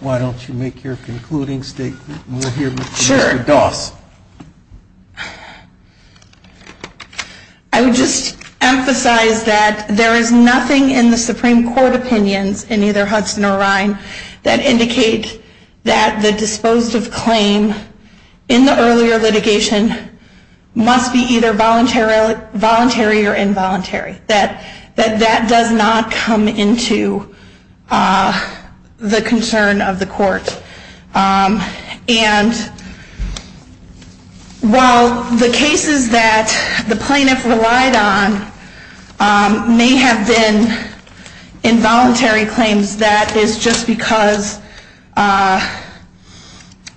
Why don't you make your concluding statement and we'll hear your thoughts. Sure. I would just emphasize that there is nothing in the Supreme Court opinion, in either Hudson or Rhine, that indicates that the dispositive claims in the earlier litigation must be either voluntary or involuntary. That does not come into the concern of the court. And while the cases that the plaintiff relied on may have been involuntary claims, that is just because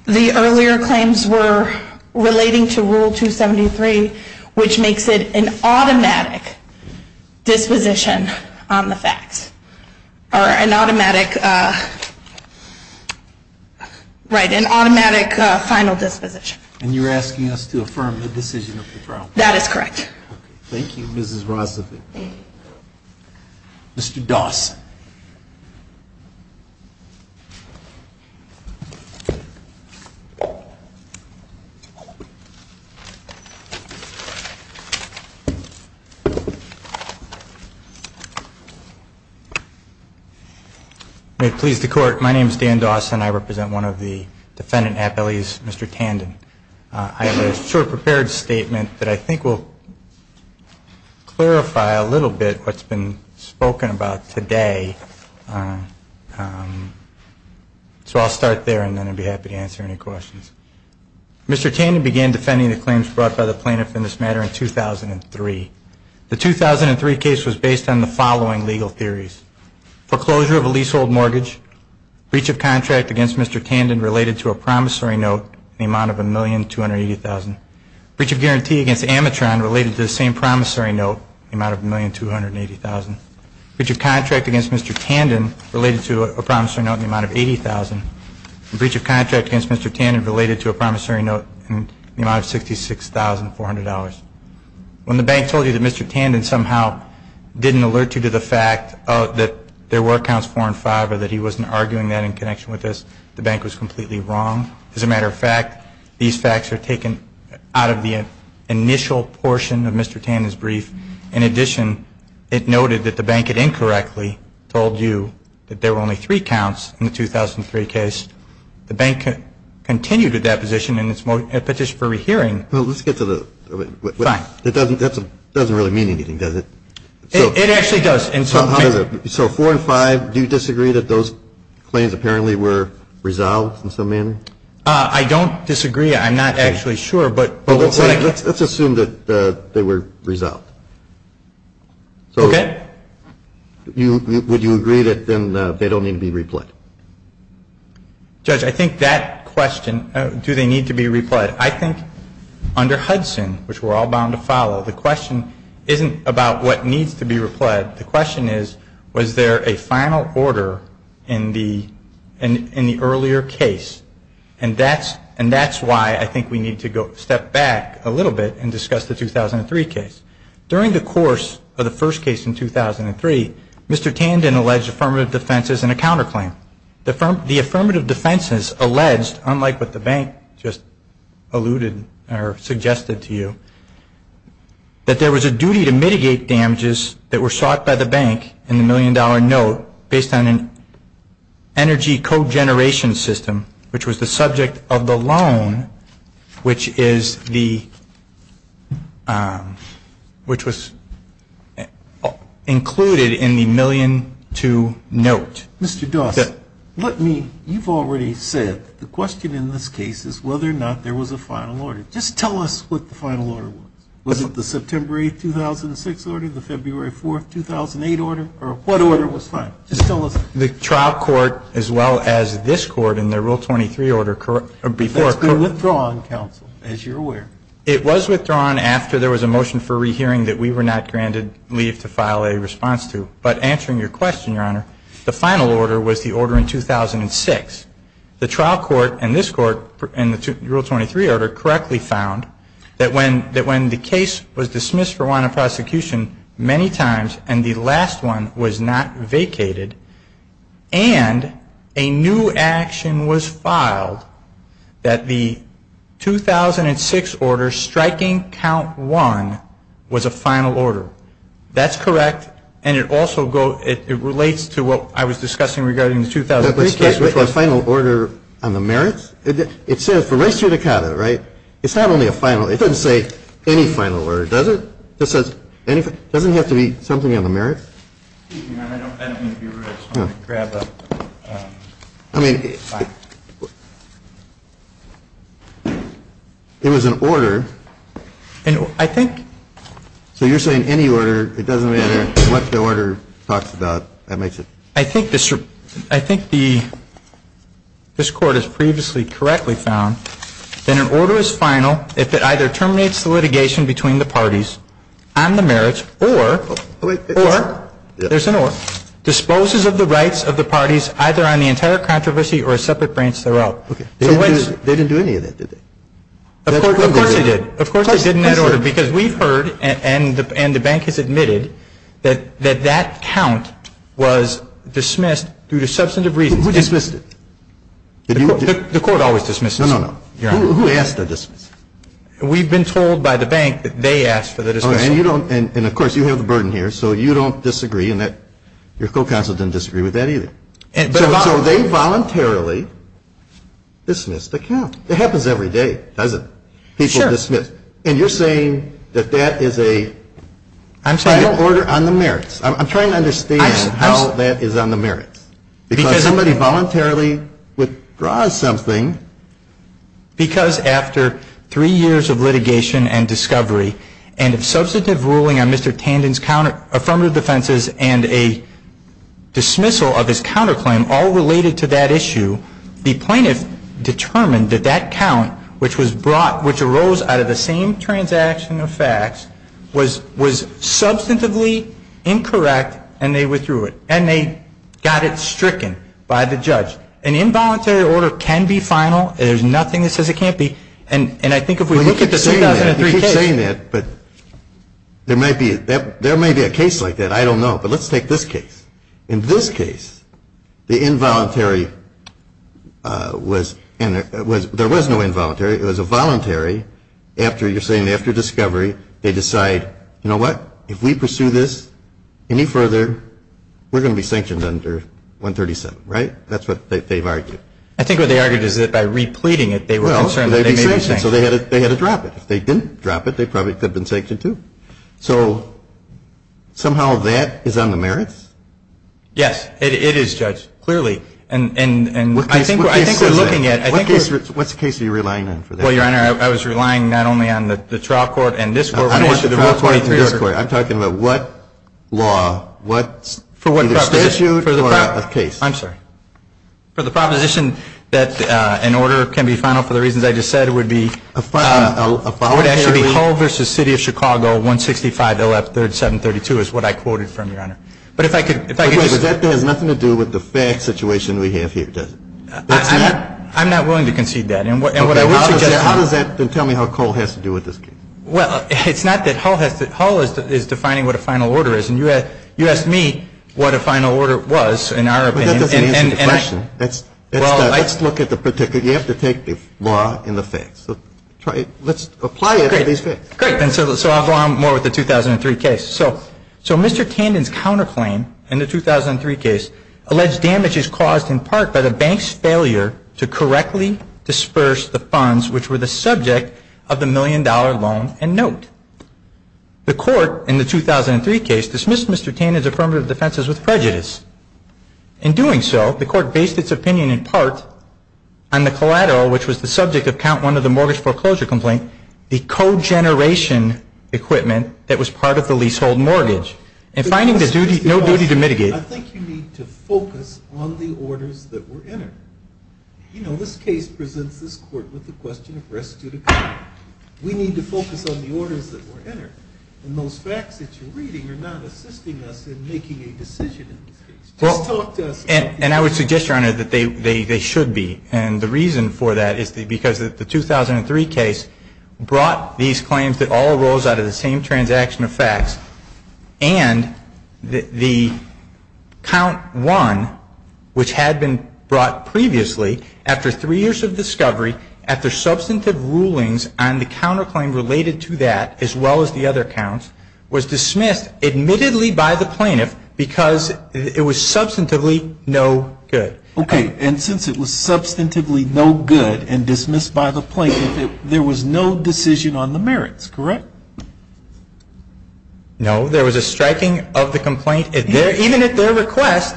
the earlier claims were relating to Rule 273, which makes it an automatic final disposition. And you're asking us to affirm the decision of the trial? That is correct. Thank you, Mrs. Rozavic. Thank you. Mr. Dawson. May it please the court, my name is Dan Dawson. I represent one of the defendant athletes, Mr. Tandon. I have a short prepared statement that I think will clarify a little bit what's been spoken about today. So I'll start there and then I'll be happy to answer any questions. Mr. Tandon began defending the claims brought by the plaintiff in the Supreme Court. The 2003 case was based on the following legal theories. For closure of a leasehold mortgage, breach of contract against Mr. Tandon related to a promissory note in the amount of $1,280,000. Breach of guarantee against Amatron related to the same promissory note in the amount of $1,280,000. Breach of contract against Mr. Tandon related to a promissory note in the amount of $80,000. Breach of contract against Mr. Tandon related to a promissory note in the amount of $66,400. When the bank told you that Mr. Tandon somehow didn't alert you to the fact that there were counts four and five or that he wasn't arguing that in connection with this, the bank was completely wrong. As a matter of fact, these facts are taken out of the initial portion of Mr. Tandon's brief. In addition, it noted that the bank had incorrectly told you that there were only three counts in the 2003 case. The bank continued to deposition and petitioned for rehearing. Let's get to the... Fine. That doesn't really mean anything, does it? It actually does. So four and five, do you disagree that those claims apparently were resolved in some manner? I don't disagree. I'm not actually sure. Let's assume that they were resolved. Okay. Would you agree that then they don't need to be repled? Judge, I think that question, do they need to be repled, I think under Hudson, which we're all bound to follow, the question isn't about what needs to be repled. The question is, was there a final order in the earlier case? And that's why I think we need to step back a little bit and discuss the 2003 case. During the course of the first case in 2003, Mr. Tandon alleged affirmative defenses and a counterclaim. The affirmative defenses alleged, unlike what the bank just alluded or suggested to you, that there was a duty to mitigate damages that were sought by the bank in the million dollar note based on an energy cogeneration system, which was the subject of the loan, which was included in the million to note. Mr. Dodd, you've already said the question in this case is whether or not there was a final order. Just tell us what the final order was. Was it the September 2006 order, the February 4, 2008 order, or what order was final? Just tell us. The trial court as well as this court in the Rule 23 order. It was withdrawn, as you're aware. It was withdrawn after there was a motion for rehearing that we were not granted leave to file a response to. But answering your question, Your Honor, the final order was the order in 2006. The trial court and this court in the Rule 23 order correctly found that when the case was dismissed for want of prosecution many times and the last one was not vacated and a new action was filed, that the 2006 order striking count one was a final order. That's correct, and it also relates to what I was discussing regarding the 2003 case. There was a final order on the merits. It says for res judicata, right? It's not only a final. It doesn't say any final order, does it? It doesn't have to be something on the merits? I don't want to be rude, so I'm going to grab a... It was an order. I think... So you're saying any order. It doesn't matter what the order talks about. I think this court has previously correctly found that an order is final if it either terminates the litigation between the parties on the merits or disposes of the rights of the parties either on the entire controversy or a separate branch throughout. They didn't do any of that, did they? Of course they did. Because we've heard and the bank has admitted that that count was dismissed due to substantive reasons. Who dismissed it? The court always dismisses. No, no, no. Who asked for the dismissal? We've been told by the bank that they asked for the dismissal. And, of course, you have a burden here, so you don't disagree and your full counsel doesn't disagree with that either. So they voluntarily dismissed the count. It happens every day, doesn't it? People dismiss. And you're saying that that is an order on the merits. I'm trying to understand how that is on the merits. Because if somebody voluntarily withdraws something... Because after three years of litigation and discovery and a substantive ruling on Mr. Tandon's affirmative defenses and a dismissal of his counterclaim all related to that issue, the plaintiff determined that that count, which arose out of the same transaction of facts, was substantively incorrect and they withdrew it. And they got it stricken by the judge. An involuntary order can be final. There's nothing that says it can't be. And I think if we look at the case... You keep saying that, but there may be a case like that. I don't know. But let's take this case. In this case, the involuntary was... There was no involuntary. It was a voluntary. You're saying after discovery, they decide, you know what? If we pursue this any further, we're going to be sanctioned under 137, right? That's what they've argued. I think what they argued is that by repleting it, they were concerned that they may be sanctioned. So they had to drop it. If they didn't drop it, they probably could have been sanctioned too. So somehow that is on the merits? Yes. It is, Judge, clearly. And I think we're looking at... What case are you relying on for that? Well, Your Honor, I was relying not only on the trial court and this court. I'm talking about what law, what statute of case? I'm sorry. For the proposition that an order can be final for the reasons I just said would be... 165 LF 3rd 732 is what I quoted from, Your Honor. But if I could... But that has nothing to do with the fact situation we have here, does it? I'm not willing to concede that. Then tell me how Cole has to do with this case. Well, it's not that... Cole is defining what a final order is. And you asked me what a final order was, in our opinion. That's an easy question. Let's look at the particular... You have to take the law and the facts. Let's apply it. Great. So I'll go on more with the 2003 case. So Mr. Tandon's counterclaim in the 2003 case alleged damage is caused in part by the bank's failure to correctly disperse the funds, which were the subject of the million-dollar loan and note. The court in the 2003 case dismissed Mr. Tandon's affirmative defenses with prejudice. In doing so, the court based its opinion in part on the collateral, which was the subject of count one of the mortgage foreclosure complaint, the cogeneration equipment that was part of the leasehold mortgage. And finding there's no duty to mitigate... I think you need to focus on the orders that were entered. You know, this case presents this court with the question of rescue the bank. We need to focus on the orders that were entered. And those facts that you're reading are not assisting us in making a decision. And I would suggest, Your Honor, that they should be. And the reason for that is because the 2003 case brought these claims that all arose out of the same transaction of facts. And the count one, which had been brought previously after three years of discovery, after substantive rulings on the counterclaim related to that as well as the other counts, was dismissed admittedly by the plaintiff because it was substantively no good. Okay. And since it was substantively no good and dismissed by the plaintiff, there was no decision on the merits, correct? No. There was a striking of the complaint, even at their request,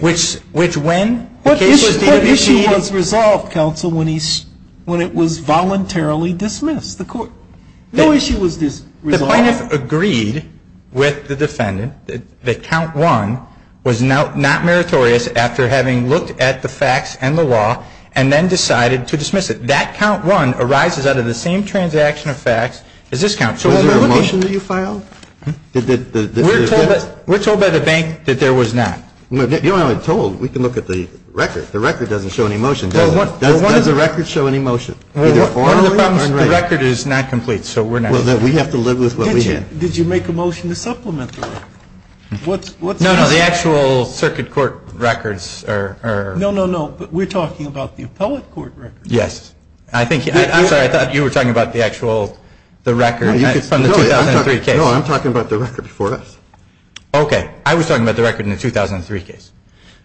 which when... What issue was resolved, counsel, when it was voluntarily dismissed? No issue was resolved. The plaintiff agreed with the defendant that count one was not meritorious after having looked at the facts and the law and then decided to dismiss it. That count one arises out of the same transaction of facts as this count. So was there a motion that you filed? We're told by the bank that there was not. You're not even told. We can look at the record. The record doesn't show any motion. Why does the record show any motion? The record is not complete, so we're not... We have to live with what we have. Did you make a motion to supplement that? No, no. The actual circuit court records are... No, no, no. We're talking about the appellate court records. Yes. I'm sorry. I thought you were talking about the actual, the record from the 2003 case. No, I'm talking about the record for us. Okay. I was talking about the record in the 2003 case.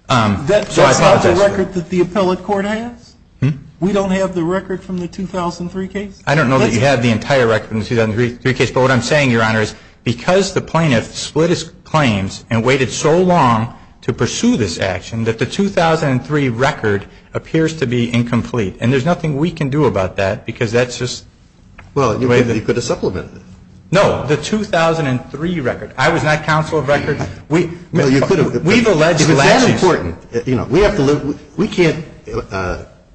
That's not the record that the appellate court has. We don't have the record from the 2003 case? I don't know that you have the entire record from the 2003 case, but what I'm saying, Your Honor, is because the plaintiff split his claims and waited so long to pursue this action that the 2003 record appears to be incomplete. And there's nothing we can do about that because that's just... Well, you could have supplemented it. No. The 2003 record. I was not counsel of records. No, you could have... We've alleged... That's important. We can't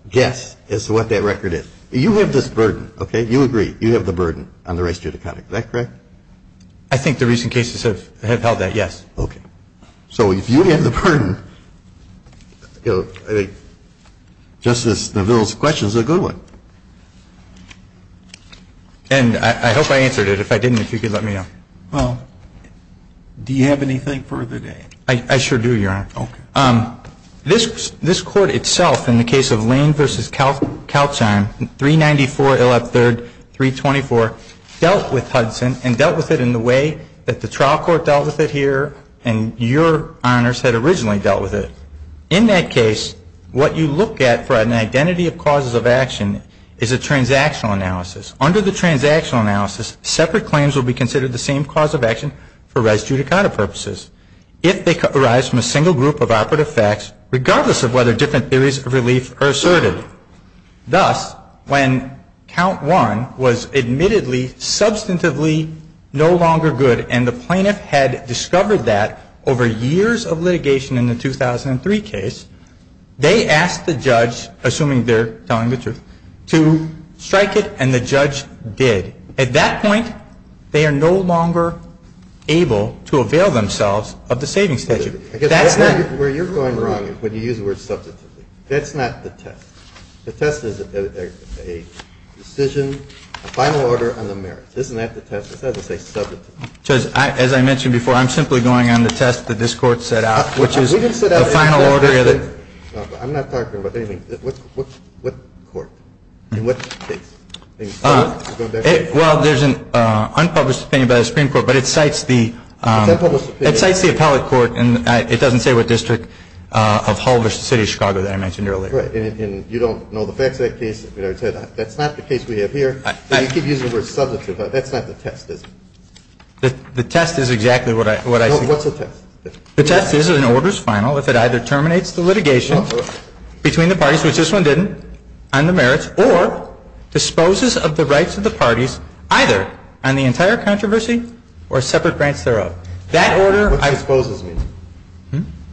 guess as to what that record is. You have this burden, okay? You agree. You have the burden on the race judicata. Is that correct? I think the recent cases have held that, yes. Okay. So you have the burden. Justice DeVito's question is a good one. And I hope I answered it. If I didn't, if you could let me know. Well, do you have anything further to add? I sure do, Your Honor. This court itself, in the case of Lane v. Calchon, 394 Illop III, 324, dealt with Hudson and dealt with it in the way that the trial court dealt with it here and your Honors had originally dealt with it. In that case, what you look at for an identity of causes of action is a transactional analysis. Under the transactional analysis, separate claims will be considered the same cause of action for race judicata purposes. If they arise from a single group of operative facts, regardless of whether different theories of relief are asserted. Thus, when count one was admittedly, substantively no longer good and the plaintiff had discovered that over years of litigation in the 2003 case, they asked the judge, assuming they're telling the truth, to strike it and the judge did. At that point, they are no longer able to avail themselves of the saving statute. Where you're going wrong is when you use the word substantively. That's not the test. The test is a decision, a final order on the merits. Isn't that the test? It doesn't say substantively. As I mentioned before, I'm simply going on the test that this court set out, which is the final order. I'm not talking about anything. What court? In what state? Well, there's an unpublished opinion by the Supreme Court, but it cites the appellate court and it doesn't say what district of Hull versus the City of Chicago that I mentioned earlier. Right, and you don't know the facts of that case. That's not the case we have here. You keep using the word substantively. That's not the test, is it? The test is exactly what I think. What's the test? The test is an order's final if it either terminates the litigation between the parties, which this one didn't, on the merits, or disposes of the rights of the parties either on the entire controversy or separate grants thereof.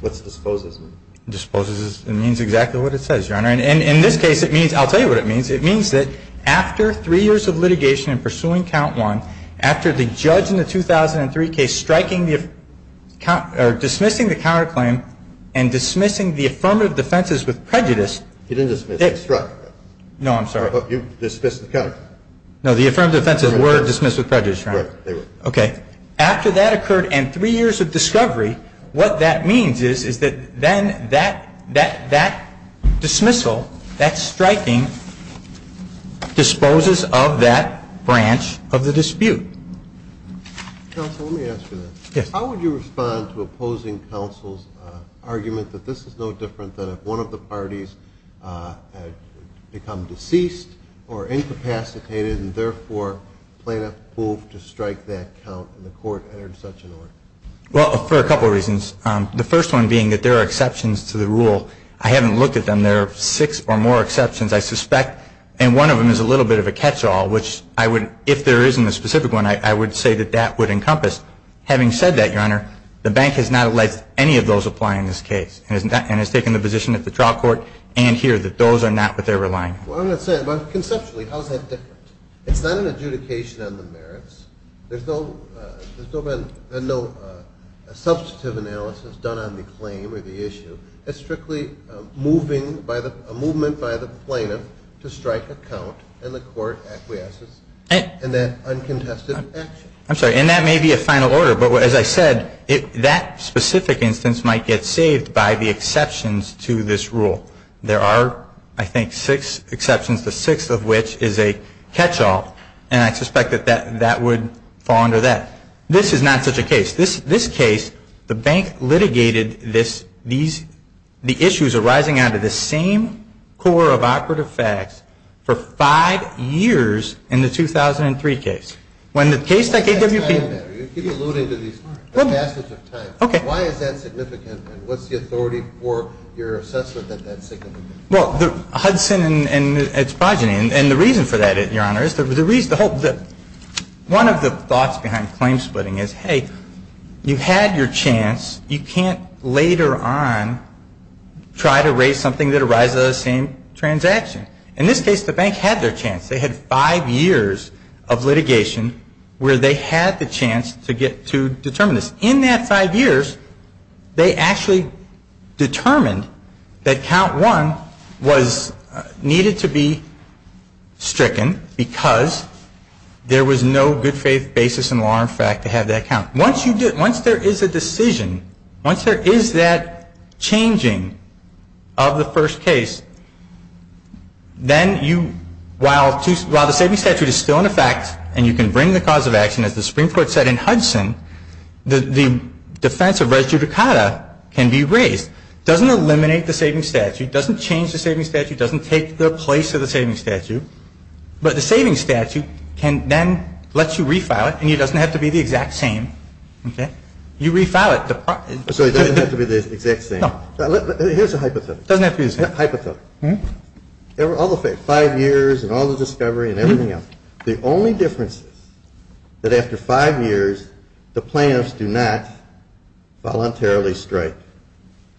What's disposes mean? Disposes means exactly what it says, Your Honor. In this case, I'll tell you what it means. It means that after three years of litigation and pursuing count one, after the judge in the 2003 case striking or dismissing the counterclaim and dismissing the affirmative defenses with prejudice, It didn't dismiss. No, I'm sorry. You dismissed the counterclaim. No, the affirmative defenses were dismissed with prejudice, Your Honor. Okay. After that occurred and three years of discovery, what that means is that then that dismissal, that striking, disposes of that branch of the dispute. Counsel, let me ask you this. Yes. How would you respond to opposing counsel's argument that this is no different than if one of the parties had become deceased or incapacitated and, therefore, planned a coup to strike that count and the court entered such an order? Well, for a couple of reasons. The first one being that there are exceptions to the rule. I haven't looked at them. There are six or more exceptions, I suspect, and one of them is a little bit of a catch-all, which if there isn't a specific one, I would say that that would encompass. Having said that, Your Honor, the bank has not let any of those apply in this case and has taken the position at the trial court and here that those are not what they're relying on. Well, I'm going to say, conceptually, how is that different? It's not an adjudication on the merits. There's still been no substantive analysis done on the claim or the issue. It's strictly a movement by the plaintiff to strike a count and the court acquiesces in that uncontested action. I'm sorry, and that may be a final order, but as I said, that specific instance might get saved by the exceptions to this rule. There are, I think, six exceptions, the sixth of which is a catch-all, and I suspect that that would fall under that. This is not such a case. This case, the bank litigated the issues arising out of the same core of operative facts for five years in the 2003 case. When the case that KWC… Why is that significant? You keep alluding to the passage of time. Okay. Why is that significant? What's the authority for your assessment of that significance? Well, Hudson and its project, and the reason for that, Your Honor, is that one of the thoughts behind claim splitting is, hey, you had your chance. You can't later on try to raise something that arises out of the same transaction. In this case, the bank had their chance. They had five years of litigation where they had the chance to determine this. In that five years, they actually determined that count one needed to be stricken because there was no good faith basis in law and fact to have that count. Once there is a decision, once there is that changing of the first case, then while the safety statute is still in effect and you can bring the cause of action as the Supreme Court said in Hudson, the defense of res judicata can be raised. It doesn't eliminate the safety statute. It doesn't change the safety statute. It doesn't take the place of the safety statute. But the safety statute can then let you refile it, and it doesn't have to be the exact same. Okay? You refile it. So it doesn't have to be the exact same. No. Here's a hypothesis. Doesn't have to be the same. Hypothesis. All the five years and all the discovery and everything else, the only difference is that after five years, the plaintiffs do not voluntarily strike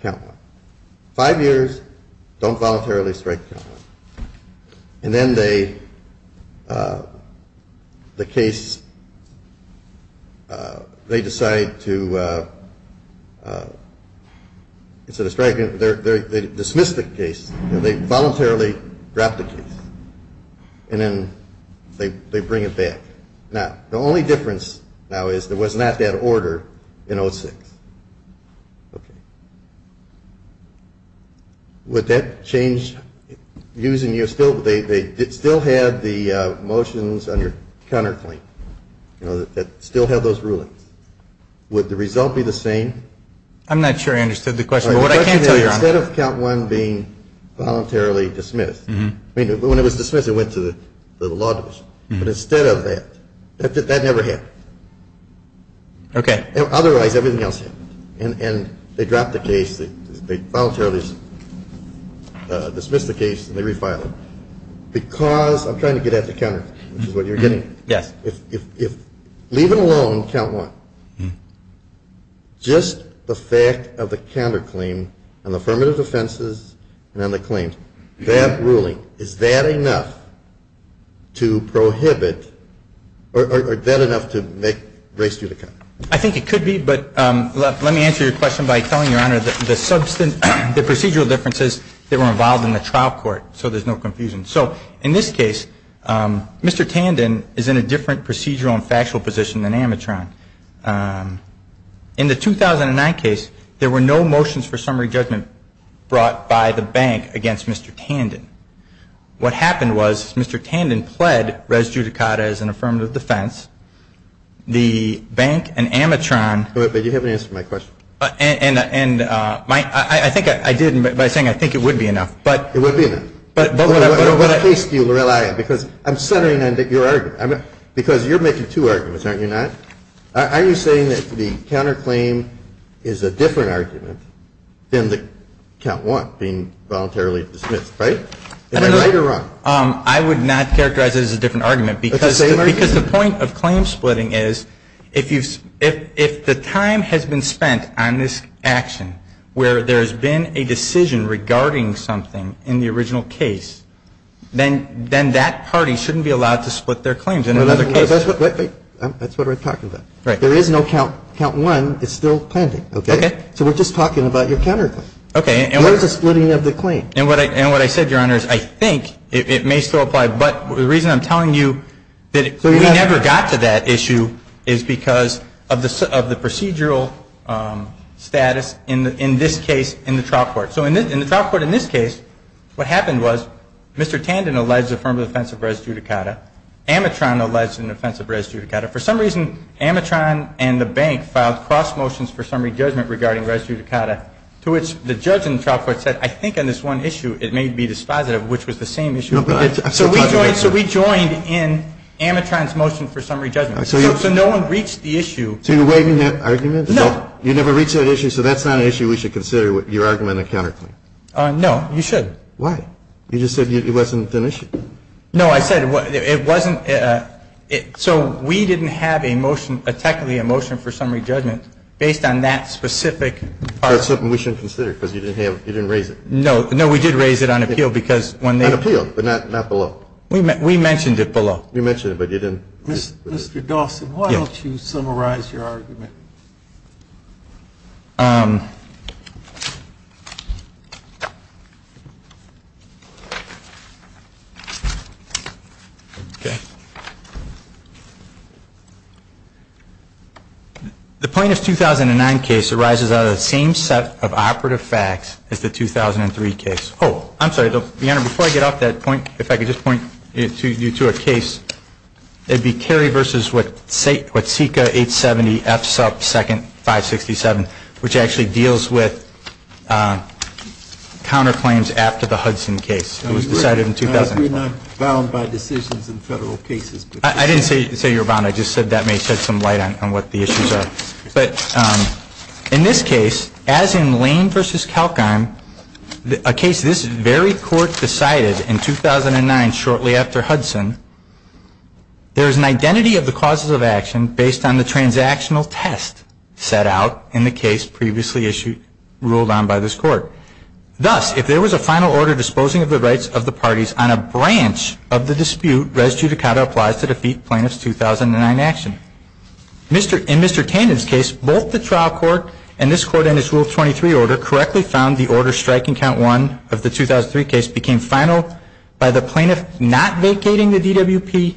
count one. Five years, don't voluntarily strike count one. And then the case, they decide to, instead of striking, they dismiss the case. They voluntarily drop the case. And then they bring it back. Now, the only difference now is there was not that order in 06. Okay. Would that change using your still, they still had the motions on your counterpoint. They still have those rulings. Would the result be the same? I'm not sure I understood the question. But what I can tell you is instead of count one being voluntarily dismissed, I mean, when it was dismissed, it went to the law division. But instead of that, that never happened. Okay. Otherwise, everything else, and they drop the case. They voluntarily dismiss the case and they refile it. Because I'm trying to get at the counter, which is what you're getting at. Yes. If, leave it alone, count one. Just the fact of the counterclaim and the affirmative offenses and then the claims, that ruling, is that enough to prohibit, or is that enough to make race due to count? I think it could be. But let me answer your question by telling you, Your Honor, the procedural differences that were involved in the trial court so there's no confusion. So in this case, Mr. Tandon is in a different procedural and factual position than Amatron. In the 2009 case, there were no motions for summary judgment brought by the bank against Mr. Tandon. What happened was Mr. Tandon fled res judicata as an affirmative defense. The bank and Amatron- But you haven't answered my question. And I think I did by saying I think it would be enough. It would be enough. But both of them- What case do you rely on? Because I'm centering on your argument. Because you're making two arguments, aren't you not? Are you saying that the counterclaim is a different argument than the count one being voluntarily dismissed, right? Am I right or wrong? I would not characterize it as a different argument. Because the point of claim splitting is if the time has been spent on this action where there's been a decision regarding something in the original case, then that party shouldn't be allowed to split their claims in another case. That's what I'm talking about. There is no count one that's still planted. So we're just talking about your counterclaim. Okay. What is the splitting of the claim? And what I said, Your Honor, is I think it may still apply. But the reason I'm telling you that we never got to that issue is because of the procedural status in this case in the trial court. So in the trial court in this case, what happened was Mr. Tandon alleged a form of offensive res judicata. Amatron alleged an offensive res judicata. For some reason, Amatron and the bank filed cross motions for summary judgment regarding res judicata, to which the judge in the trial court said, I think on this one issue it may be dispositive, which was the same issue. So we joined in Amatron's motion for summary judgment. So no one reached the issue. So you're waiving that argument? No. You never reached that issue, so that's not an issue we should consider, your argument of counterclaim. No, you should. Why? You just said it wasn't an issue. No, I said it wasn't. So we didn't have technically a motion for summary judgment based on that specific part. That's something we shouldn't consider because you didn't raise it. No, we did raise it on appeal. On appeal, but not below. We mentioned it below. You mentioned it, but you didn't. Mr. Dawson, why don't you summarize your argument? The plaintiff's 2009 case arises out of the same set of operative facts as the 2003 case. Oh, I'm sorry. Before I get off that point, if I could just point you to a case. It would be Cary v. Watsika, 870F2nd567, which actually deals with counterclaims after the Hudson case. It was decided in 2001. I'm bound by decisions in federal cases. I didn't say you're bound. I just said that may shed some light on what the issues are. In this case, as in Lane v. Kalkheim, a case this very court decided in 2009 shortly after Hudson, there is an identity of the causes of action based on the transactional test set out in the case previously ruled on by this court. Thus, if there was a final order disposing of the rights of the parties on a branch of the dispute, res judicata applies to defeat plaintiff's 2009 action. In Mr. Tandon's case, both the trial court and this court in its Rule 23 order correctly found the order striking count one of the 2003 case became final by the plaintiff not vacating the DWP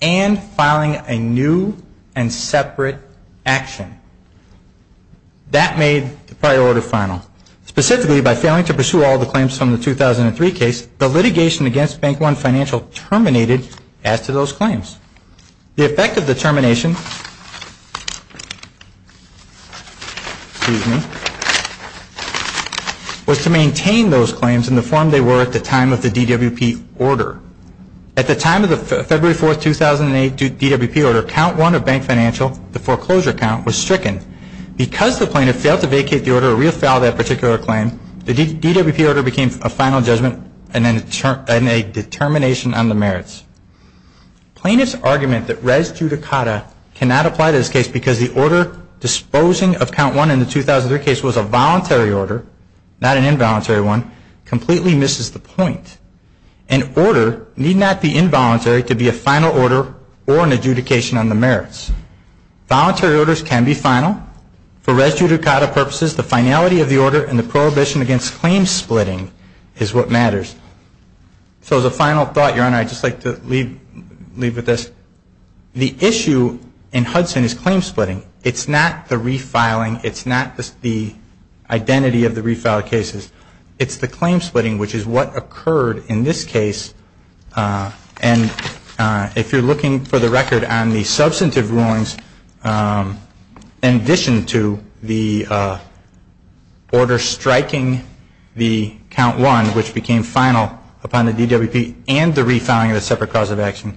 and filing a new and separate action. That made the prior order final. Specifically, by failing to pursue all the claims from the 2003 case, the litigation against Bank One Financial terminated after those claims. The effect of the termination was to maintain those claims in the form they were at the time of the DWP order. At the time of the February 4, 2008 DWP order, count one of Bank Financial, the foreclosure count, was stricken. Because the plaintiff failed to vacate the order or re-file that particular claim, the DWP order became a final judgment and a determination on the merits. Plaintiff's argument that res judicata cannot apply to this case because the order disposing of count one in the 2003 case was a voluntary order, not an involuntary one, completely misses the point. An order need not be involuntary to be a final order or an adjudication on the merits. Voluntary orders can be final. For res judicata purposes, the finality of the order and the prohibition against claim splitting is what matters. So as a final thought, Your Honor, I'd just like to leave with this. The issue in Hudson is claim splitting. It's not the re-filing. It's not the identity of the re-filed cases. It's the claim splitting, which is what occurred in this case. And if you're looking for the record on the substantive rulings, in addition to the order striking the count one, which became final upon the DWP, and the re-filing of a separate cause of action,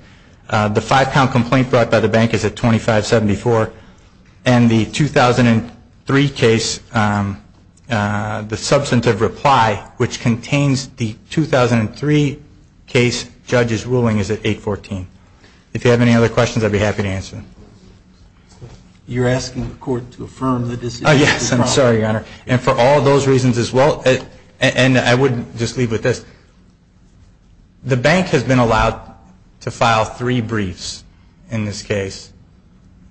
the five-pound complaint brought by the bank is at 2574. And the 2003 case, the substantive reply, which contains the 2003 case judge's ruling, is at 814. If you have any other questions, I'd be happy to answer them. You're asking the court to affirm the decision? Yes, I'm sorry, Your Honor. And for all those reasons as well, and I would just leave with this. The banks have been allowed to file three briefs in this case.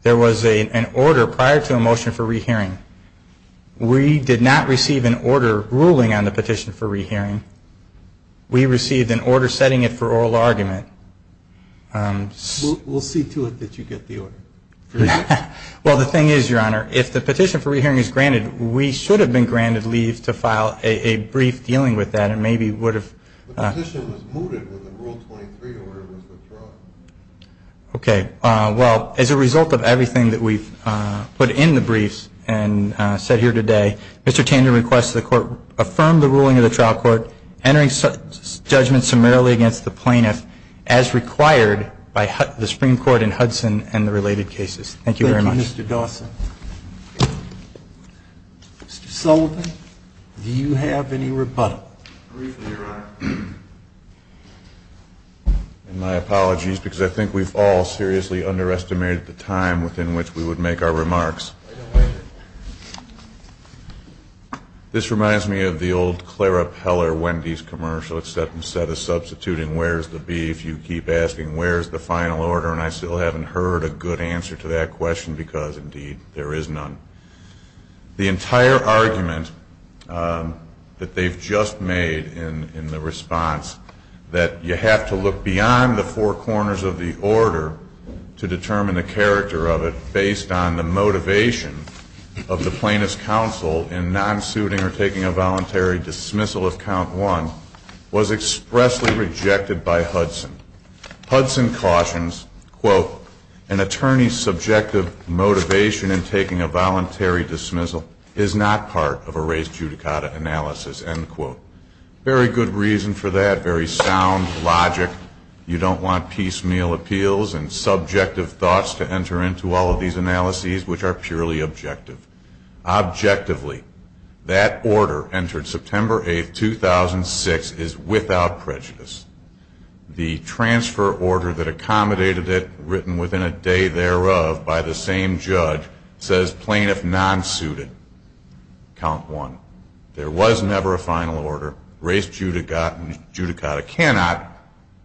There was an order prior to a motion for re-hearing. We did not receive an order ruling on the petition for re-hearing. We received an order setting it for oral argument. We'll see to it that you get the order. Well, the thing is, Your Honor, if the petition for re-hearing is granted, we should have been granted leave to file a brief dealing with that and maybe would have – The petition was mooted in Rule 23, the order was withdrawn. Okay. Well, as a result of everything that we've put in the briefs and said here today, Mr. Tanden requests the court affirm the ruling of the trial court, entering judgment summarily against the plaintiff, as required by the Supreme Court in Hudson and the related cases. Thank you very much. Thank you, Mr. Dawson. Mr. Sullivan, do you have any rebuttal? Briefly, Your Honor. And my apologies, because I think we've all seriously underestimated the time within which we would make our remarks. This reminds me of the old Clara Peller Wendy's commercial, it's that instead of substituting where's the beef, you keep asking where's the final order, and I still haven't heard a good answer to that question because, indeed, there is none. The entire argument that they've just made in the response, that you have to look beyond the four corners of the order to determine the character of it, based on the motivation of the plaintiff's counsel in non-suiting or taking a voluntary dismissal of count one, was expressly rejected by Hudson. Hudson cautions, quote, an attorney's subjective motivation in taking a voluntary dismissal is not part of a race judicata analysis, end quote. Very good reason for that, very sound logic. You don't want piecemeal appeals and subjective thoughts to enter into all of these analyses, which are purely objective. Objectively, that order entered September 8, 2006, is without prejudice. The transfer order that accommodated it, written within a day thereof by the same judge, says plaintiff non-suited, count one. There was never a final order. Race judicata cannot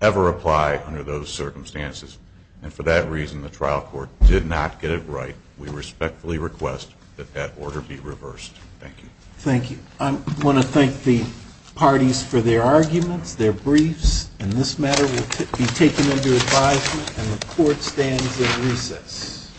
ever apply under those circumstances, and for that reason the trial court did not get it right. We respectfully request that that order be reversed. Thank you. Thank you. I want to thank the parties for their arguments, their briefs, and this matter will be taken into advisement and the court stands in recess.